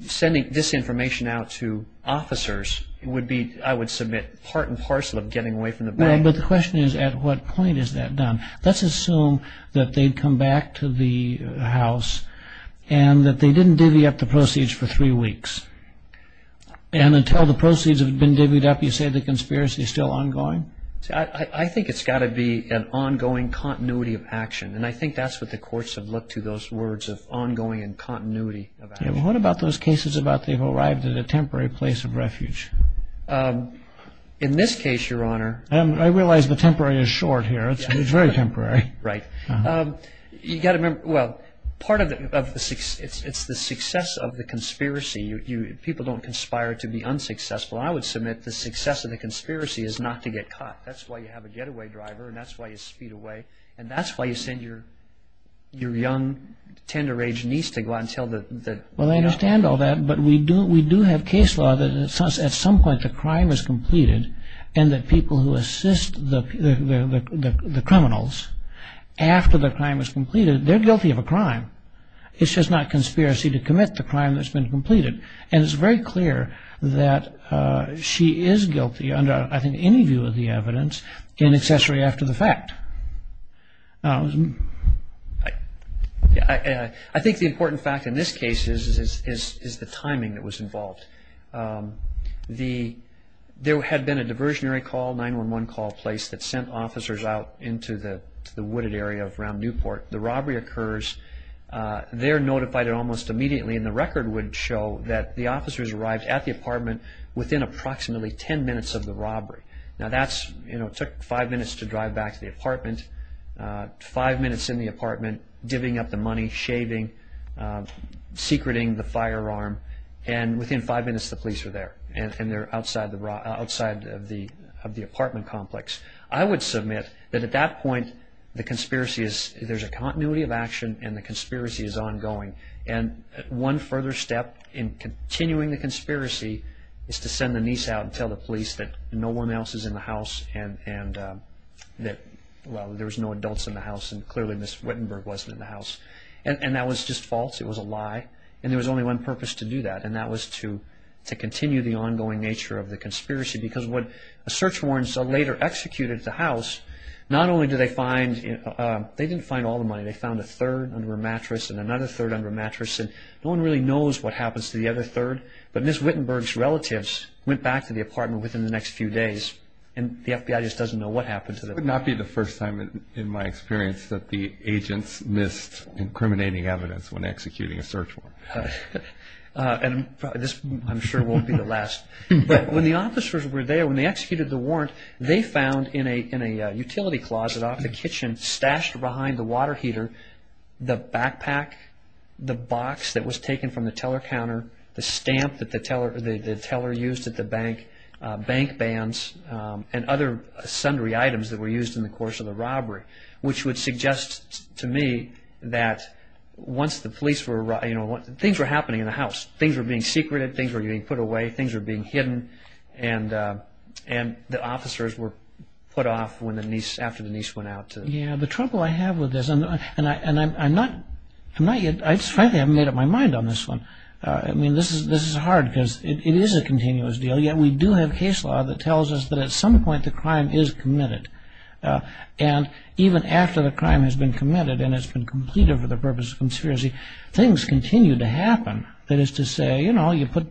sending this information out to officers would be, I would submit, part and parcel of getting away from the bank. No, but the question is, at what point is that done? Let's assume that they'd come back to the house and that they didn't divvy up the proceeds for three weeks. And until the proceeds have been divvied up, you say the conspiracy is still ongoing? I think it's got to be an ongoing continuity of action. And I think that's what the courts have looked to, those words of ongoing and continuity of action. What about those cases about they've arrived at a temporary place of refuge? In this case, Your Honor. I realize the temporary is short here. It's very temporary. Right. You've got to remember, well, part of the, it's the success of the conspiracy. People don't conspire to be unsuccessful. I would submit the success of the conspiracy is not to get caught. That's why you have a getaway driver, and that's why you speed away, and that's why you send your young, tender-aged niece to go out and tell the man. Well, I understand all that, but we do have case law that at some point the crime is completed and the people who assist the criminals after the crime is completed, they're guilty of a crime. It's just not conspiracy to commit the crime that's been completed. And it's very clear that she is guilty under, I think, any view of the evidence in accessory after the fact. I think the important fact in this case is the timing that was involved. There had been a diversionary call, 911 call place, that sent officers out into the wooded area around Newport. The robbery occurs. They're notified almost immediately, and the record would show that the officers arrived at the apartment within approximately ten minutes of the robbery. Now, that's, you know, it took five minutes to drive back to the apartment. Five minutes in the apartment, divvying up the money, shaving, secreting the firearm, and within five minutes the police were there, and they're outside of the apartment complex. I would submit that at that point the conspiracy is, there's a continuity of action, and the conspiracy is ongoing. And one further step in continuing the conspiracy is to send the niece out and tell the police that no one else is in the house and that, well, there was no adults in the house and clearly Ms. Wittenberg wasn't in the house. And that was just false. It was a lie, and there was only one purpose to do that, and that was to continue the ongoing nature of the conspiracy. Because when a search warrant is later executed at the house, not only do they find, they didn't find all the money. They found a third under a mattress and another third under a mattress, and no one really knows what happens to the other third. But Ms. Wittenberg's relatives went back to the apartment within the next few days, and the FBI just doesn't know what happened to them. It would not be the first time, in my experience, that the agents missed incriminating evidence when executing a search warrant. And this, I'm sure, won't be the last. But when the officers were there, when they executed the warrant, they found in a utility closet off the kitchen, stashed behind the water heater, the backpack, the box that was taken from the teller counter, the stamp that the teller used at the bank, bank bands, and other sundry items that were used in the course of the robbery, which would suggest to me that once the police were, you know, things were happening in the house. Things were being secreted. Things were being put away. Things were being hidden. And the officers were put off after the niece went out. Yeah. The trouble I have with this, and I'm not yet – frankly, I haven't made up my mind on this one. I mean, this is hard because it is a continuous deal, yet we do have case law that tells us that at some point the crime is committed. And even after the crime has been committed and it's been completed for the purpose of conspiracy, things continue to happen. That is to say, you know, you put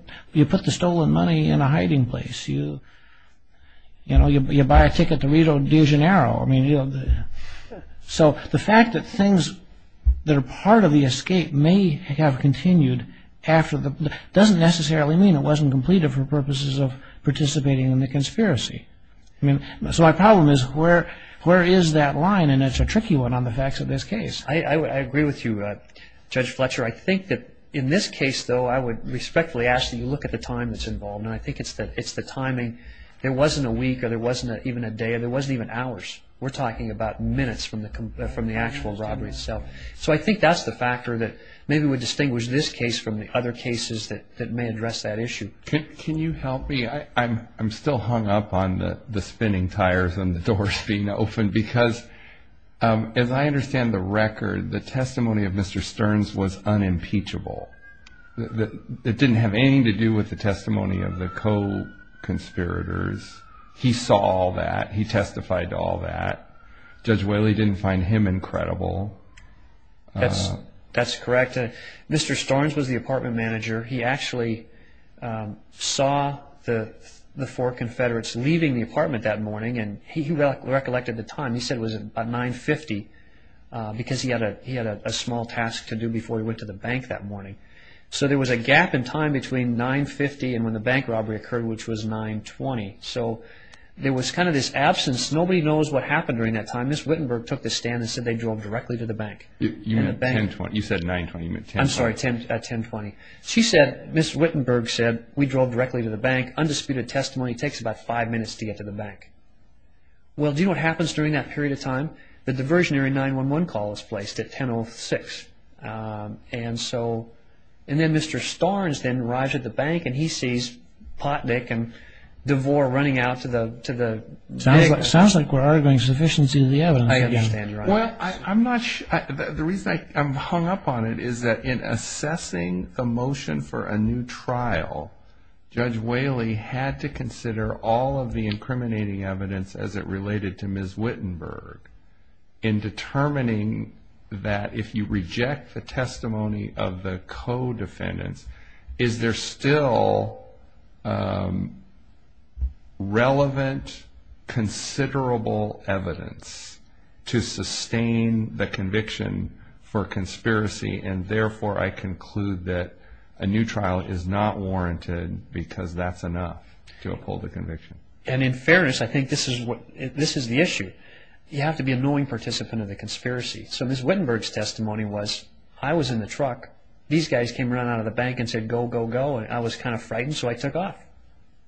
the stolen money in a hiding place. You know, you buy a ticket to Rio de Janeiro. I mean, so the fact that things that are part of the escape may have continued doesn't necessarily mean it wasn't completed for purposes of participating in the conspiracy. So my problem is where is that line? And it's a tricky one on the facts of this case. I agree with you, Judge Fletcher. I think that in this case, though, I would respectfully ask that you look at the time that's involved. And I think it's the timing. There wasn't a week or there wasn't even a day or there wasn't even hours. We're talking about minutes from the actual robbery itself. So I think that's the factor that maybe would distinguish this case from the other cases that may address that issue. Can you help me? I'm still hung up on the spinning tires and the doors being opened because as I understand the record, the testimony of Mr. Stearns was unimpeachable. It didn't have anything to do with the testimony of the co-conspirators. He saw all that. He testified to all that. Judge Whaley didn't find him incredible. That's correct. Mr. Stearns was the apartment manager. He actually saw the four Confederates leaving the apartment that morning, and he recollected the time. He said it was about 9.50 because he had a small task to do before he went to the bank that morning. So there was a gap in time between 9.50 and when the bank robbery occurred, which was 9.20. So there was kind of this absence. Nobody knows what happened during that time. Ms. Wittenberg took the stand and said they drove directly to the bank. You said 9.20. You meant 10.20. I'm sorry, 10.20. Ms. Wittenberg said, we drove directly to the bank. The bank undisputed testimony takes about five minutes to get to the bank. Well, do you know what happens during that period of time? The diversionary 911 call is placed at 10.06. And then Mr. Stearns then arrives at the bank, and he sees Potnick and DeVore running out to the bank. Sounds like we're arguing sufficiency of the evidence. I understand your argument. The reason I'm hung up on it is that in assessing the motion for a new trial, Judge Whaley had to consider all of the incriminating evidence as it related to Ms. Wittenberg in determining that if you reject the testimony of the co-defendants, is there still relevant, considerable evidence to sustain the conviction for conspiracy, and therefore I conclude that a new trial is not warranted because that's enough to uphold the conviction. And in fairness, I think this is the issue. You have to be a knowing participant of the conspiracy. So Ms. Wittenberg's testimony was, I was in the truck. These guys came running out of the bank and said, go, go, go. And I was kind of frightened, so I took off.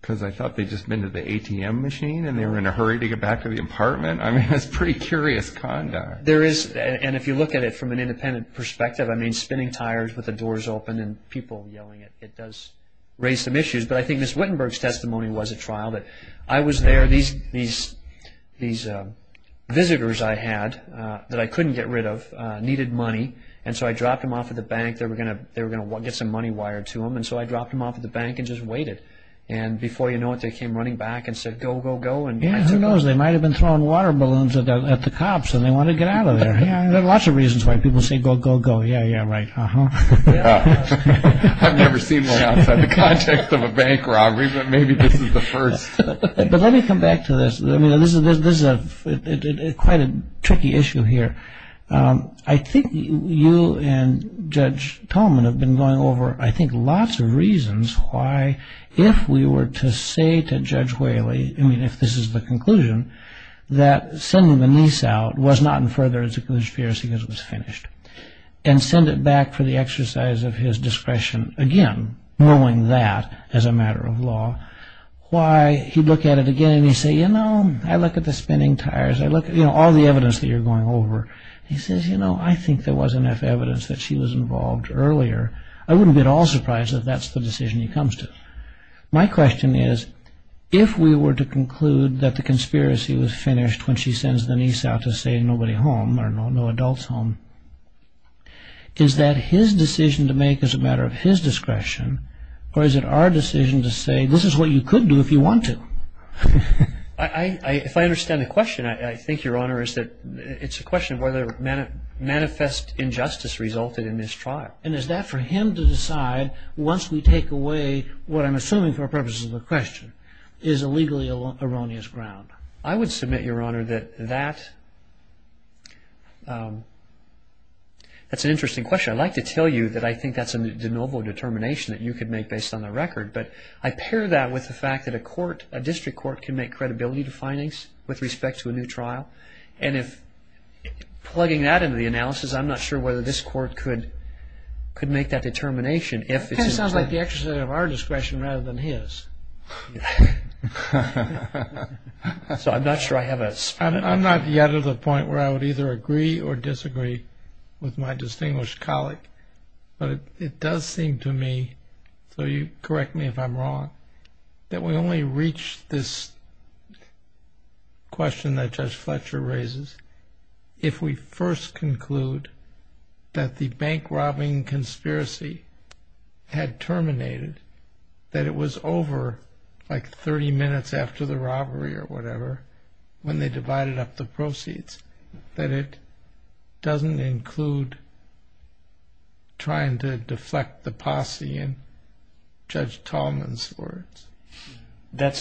Because I thought they'd just been to the ATM machine, and they were in a hurry to get back to the apartment. I mean, that's pretty curious conduct. There is, and if you look at it from an independent perspective, I mean, spinning tires with the doors open and people yelling, it does raise some issues. But I think Ms. Wittenberg's testimony was a trial that I was there. These visitors I had that I couldn't get rid of needed money, and so I dropped them off at the bank. They were going to get some money wired to them, and so I dropped them off at the bank and just waited. And before you know it, they came running back and said, go, go, go. Who knows? They might have been throwing water balloons at the cops and they wanted to get out of there. There are lots of reasons why people say, go, go, go. Yeah, yeah, right, uh-huh. I've never seen one outside the context of a bank robbery, but maybe this is the first. But let me come back to this. I mean, this is quite a tricky issue here. I think you and Judge Tolman have been going over, I think, lots of reasons why, if we were to say to Judge Whaley, I mean, if this is the conclusion, that sending the niece out was not in further judicial jurisprudence because it was finished and send it back for the exercise of his discretion, again, knowing that as a matter of law, why he'd look at it again and he'd say, you know, I look at the spinning tires, I look at all the evidence that you're going over. He says, you know, I think there was enough evidence that she was involved earlier. I wouldn't be at all surprised if that's the decision he comes to. My question is, if we were to conclude that the conspiracy was finished when she sends the niece out to say nobody home or no adults home, is that his decision to make as a matter of his discretion or is it our decision to say this is what you could do if you want to? If I understand the question, I think, Your Honor, it's a question of whether manifest injustice resulted in this trial. And is that for him to decide once we take away what I'm assuming for the purposes of the question is a legally erroneous ground? I would submit, Your Honor, that that's an interesting question. I'd like to tell you that I think that's a de novo determination that you could make based on the record, but I pair that with the fact that a court, a district court, can make credibility to findings with respect to a new trial. And if plugging that into the analysis, I'm not sure whether this court could make that determination. It kind of sounds like the exercise of our discretion rather than his. So I'm not sure I have a... I'm not yet at a point where I would either agree or disagree with my distinguished colleague, but it does seem to me, so you correct me if I'm wrong, that we only reach this question that Judge Fletcher raises if we first conclude that the bank robbing conspiracy had terminated, that it was over like 30 minutes after the robbery or whatever when they divided up the proceeds, that it doesn't include trying to deflect the posse in Judge Tallman's words.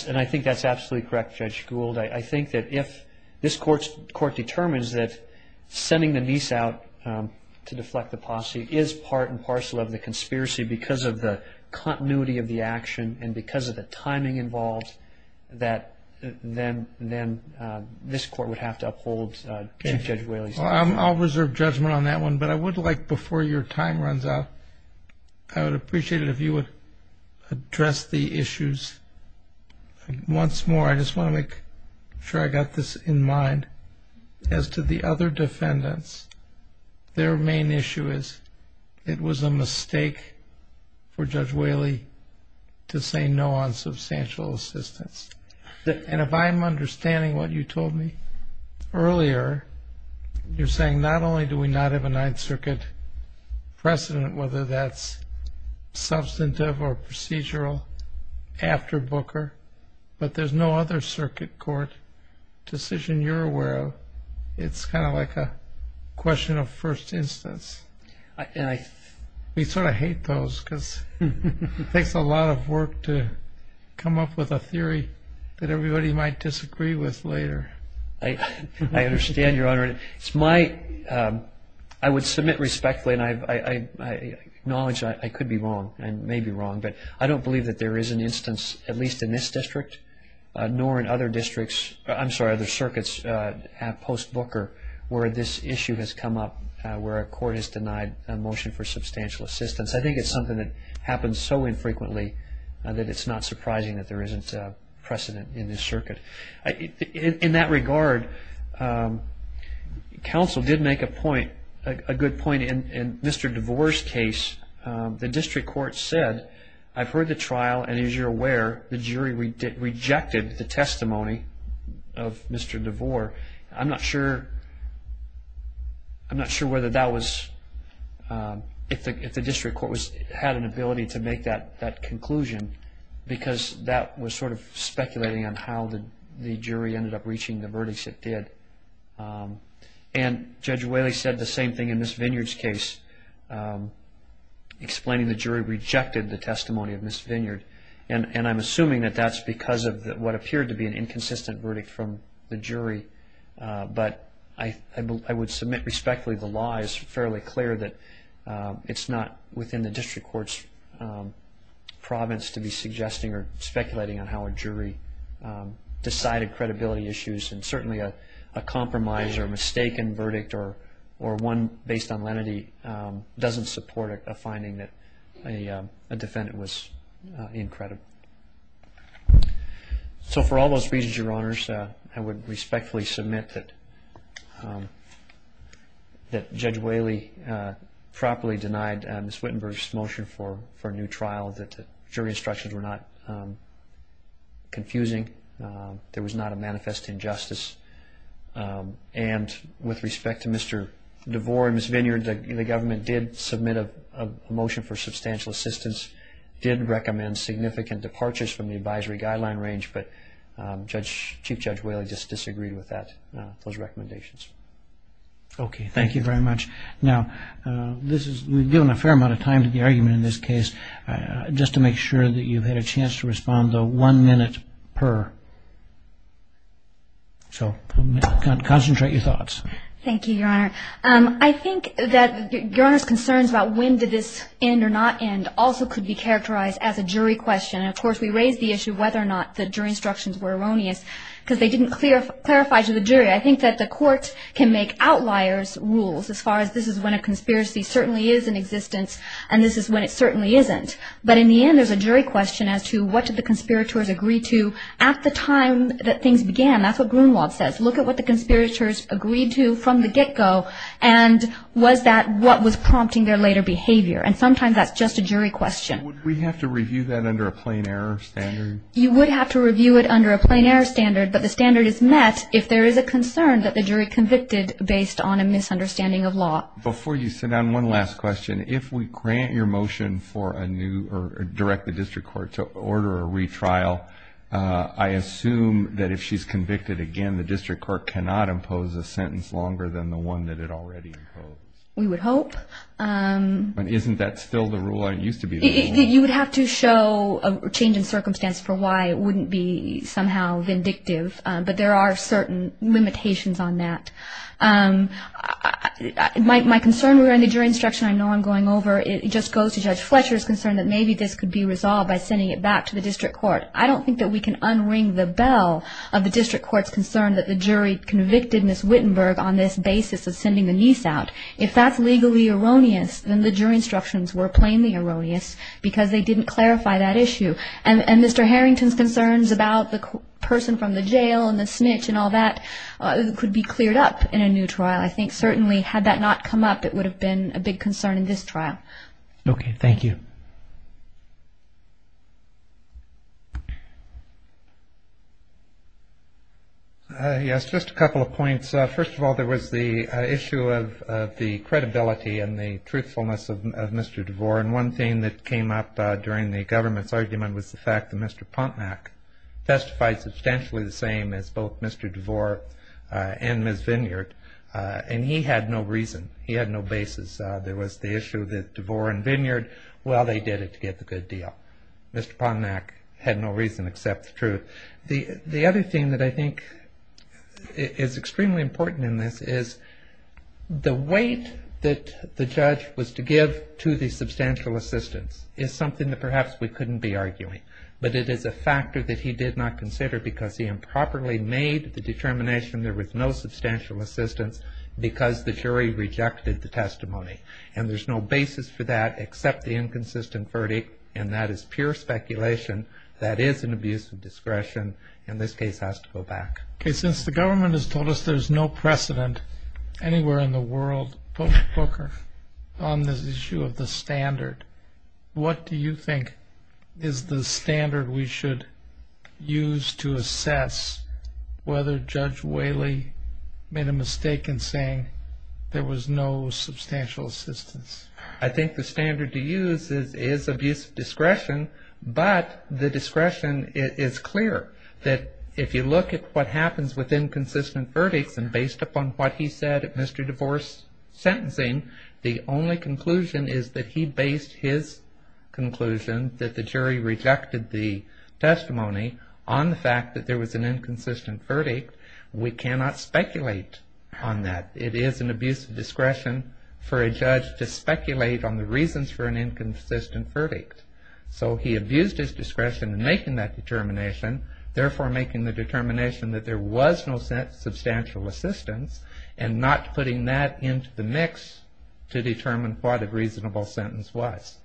And I think that's absolutely correct, Judge Gould. I think that if this court determines that sending the niece out to deflect the posse is part and parcel of the conspiracy because of the continuity of the action and because of the timing involved, that then this court would have to uphold Judge Whaley's decision. I'll reserve judgment on that one, but I would like, before your time runs out, I would appreciate it if you would address the issues once more. I just want to make sure I got this in mind. As to the other defendants, their main issue is it was a mistake for Judge Whaley to say no on substantial assistance. And if I'm understanding what you told me earlier, you're saying not only do we not have a Ninth Circuit precedent, whether that's substantive or procedural after Booker, but there's no other circuit court decision, you're aware of, it's kind of like a question of first instance. We sort of hate those because it takes a lot of work to come up with a theory that everybody might disagree with later. I understand, Your Honor. I would submit respectfully, and I acknowledge I could be wrong and may be wrong, but I don't believe that there is an instance, at least in this district, nor in other districts, I'm sorry, other circuits post Booker, where this issue has come up where a court has denied a motion for substantial assistance. I think it's something that happens so infrequently that it's not surprising that there isn't precedent in this circuit. In that regard, counsel did make a point, a good point in Mr. DeVore's case. The district court said, I've heard the trial, and as you're aware, the jury rejected the testimony of Mr. DeVore. I'm not sure whether that was, if the district court had an ability to make that conclusion because that was sort of speculating on how the jury ended up reaching the verdict it did. And Judge Whaley said the same thing in Ms. Vineyard's case, explaining the jury rejected the testimony of Ms. Vineyard. And I'm assuming that that's because of what appeared to be an inconsistent verdict from the jury. But I would submit respectfully the law is fairly clear that it's not within the district court's province to be suggesting or speculating on how a jury decided credibility issues. And certainly a compromise or a mistaken verdict or one based on lenity doesn't support a finding that a defendant was incredible. So for all those reasons, Your Honors, I would respectfully submit that Judge Whaley properly denied Ms. Wittenberg's motion for a new trial, that the jury instructions were not confusing, there was not a manifest injustice. And with respect to Mr. DeVore and Ms. Vineyard, the government did submit a motion for substantial assistance, did recommend significant departures from the advisory guideline range, but Chief Judge Whaley just disagreed with those recommendations. Okay, thank you very much. Now, we've given a fair amount of time to the argument in this case. Just to make sure that you've had a chance to respond, though, one minute per. So concentrate your thoughts. Thank you, Your Honor. I think that Your Honor's concerns about when did this end or not end also could be characterized as a jury question. And, of course, we raised the issue whether or not the jury instructions were erroneous because they didn't clarify to the jury. I think that the court can make outliers rules as far as this is when a conspiracy certainly is in existence and this is when it certainly isn't. But in the end, there's a jury question as to what did the conspirators agree to at the time that things began. That's what Gruenwald says. Look at what the conspirators agreed to from the get-go and was that what was prompting their later behavior. And sometimes that's just a jury question. Would we have to review that under a plain error standard? You would have to review it under a plain error standard, but the standard is met if there is a concern that the jury convicted based on a misunderstanding of law. Before you sit down, one last question. If we grant your motion for a new or direct the district court to order a retrial, I assume that if she's convicted again, the district court cannot impose a sentence longer than the one that it already imposed. We would hope. Isn't that still the rule? It used to be the rule. You would have to show a change in circumstance for why it wouldn't be somehow vindictive, but there are certain limitations on that. My concern around the jury instruction, I know I'm going over, it just goes to Judge Fletcher's concern that maybe this could be resolved by sending it back to the district court. I don't think that we can unring the bell of the district court's concern that the jury convicted Ms. Wittenberg on this basis of sending the niece out. If that's legally erroneous, then the jury instructions were plainly erroneous because they didn't clarify that issue. And Mr. Harrington's concerns about the person from the jail and the snitch and all that could be cleared up. In a new trial, I think certainly had that not come up, it would have been a big concern in this trial. Okay, thank you. Yes, just a couple of points. First of all, there was the issue of the credibility and the truthfulness of Mr. DeVore, and one thing that came up during the government's argument was the fact that Mr. Pontenac testified substantially the same as both Mr. DeVore and Ms. Vineyard, and he had no reason. He had no basis. There was the issue that DeVore and Vineyard, well, they did it to get the good deal. Mr. Pontenac had no reason except the truth. The other thing that I think is extremely important in this is the weight that the judge was to give to the fact that he did not consider because he improperly made the determination there was no substantial assistance because the jury rejected the testimony, and there's no basis for that except the inconsistent verdict, and that is pure speculation. That is an abuse of discretion, and this case has to go back. Okay, since the government has told us there's no precedent anywhere in the world, on this issue of the standard, what do you think is the standard we should use to assess whether Judge Whaley made a mistake in saying there was no substantial assistance? I think the standard to use is abuse of discretion, but the discretion is clear, that if you look at what happens with inconsistent verdicts and based upon what he said at Mr. DeVore's sentencing, the only conclusion is that he based his conclusion that the jury rejected the testimony on the fact that there was an inconsistent verdict. We cannot speculate on that. It is an abuse of discretion for a judge to speculate on the reasons for an inconsistent verdict. So he abused his discretion in making that determination, therefore making the determination that there was no substantial assistance and not putting that into the mix to determine what a reasonable sentence was.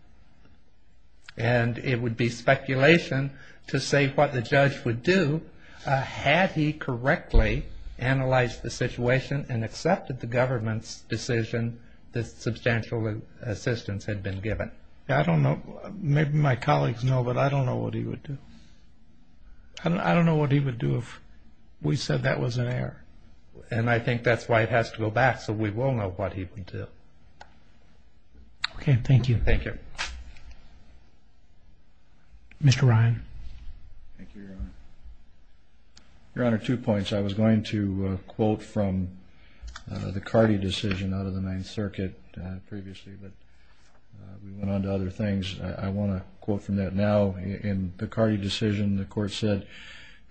And it would be speculation to say what the judge would do had he correctly analyzed the situation and accepted the government's decision that substantial assistance had been given. I don't know. Maybe my colleagues know, but I don't know what he would do. I don't know what he would do if we said that was an error. And I think that's why it has to go back so we will know what he would do. Okay, thank you. Thank you. Mr. Ryan. Thank you, Your Honor. Your Honor, two points. I was going to quote from the Cardee decision out of the Ninth Circuit previously, but we went on to other things. I want to quote from that now. In the Cardee decision, the court said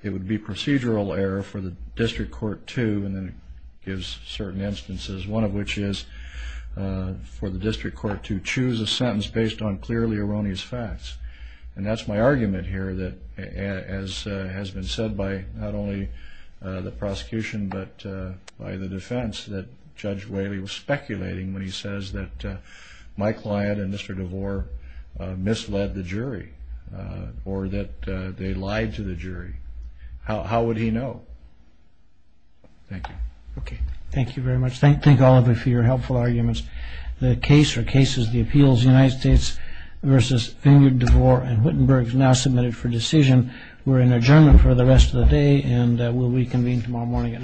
it would be procedural error for the district court to, and then it gives certain instances, one of which is for the district court to choose a sentence based on clearly erroneous facts. And that's my argument here that, as has been said by not only the prosecution, but by the defense that Judge Whaley was speculating when he says that my client and Mr. DeVore misled the jury or that they lied to the jury. How would he know? Thank you. Okay. Thank you very much. Thank all of you for your helpful arguments. The case or cases of the appeals of the United States versus Finger, DeVore, and Huttenberg is now submitted for decision. We're in adjournment for the rest of the day, and we'll reconvene tomorrow morning at 930. Thank you. All rise.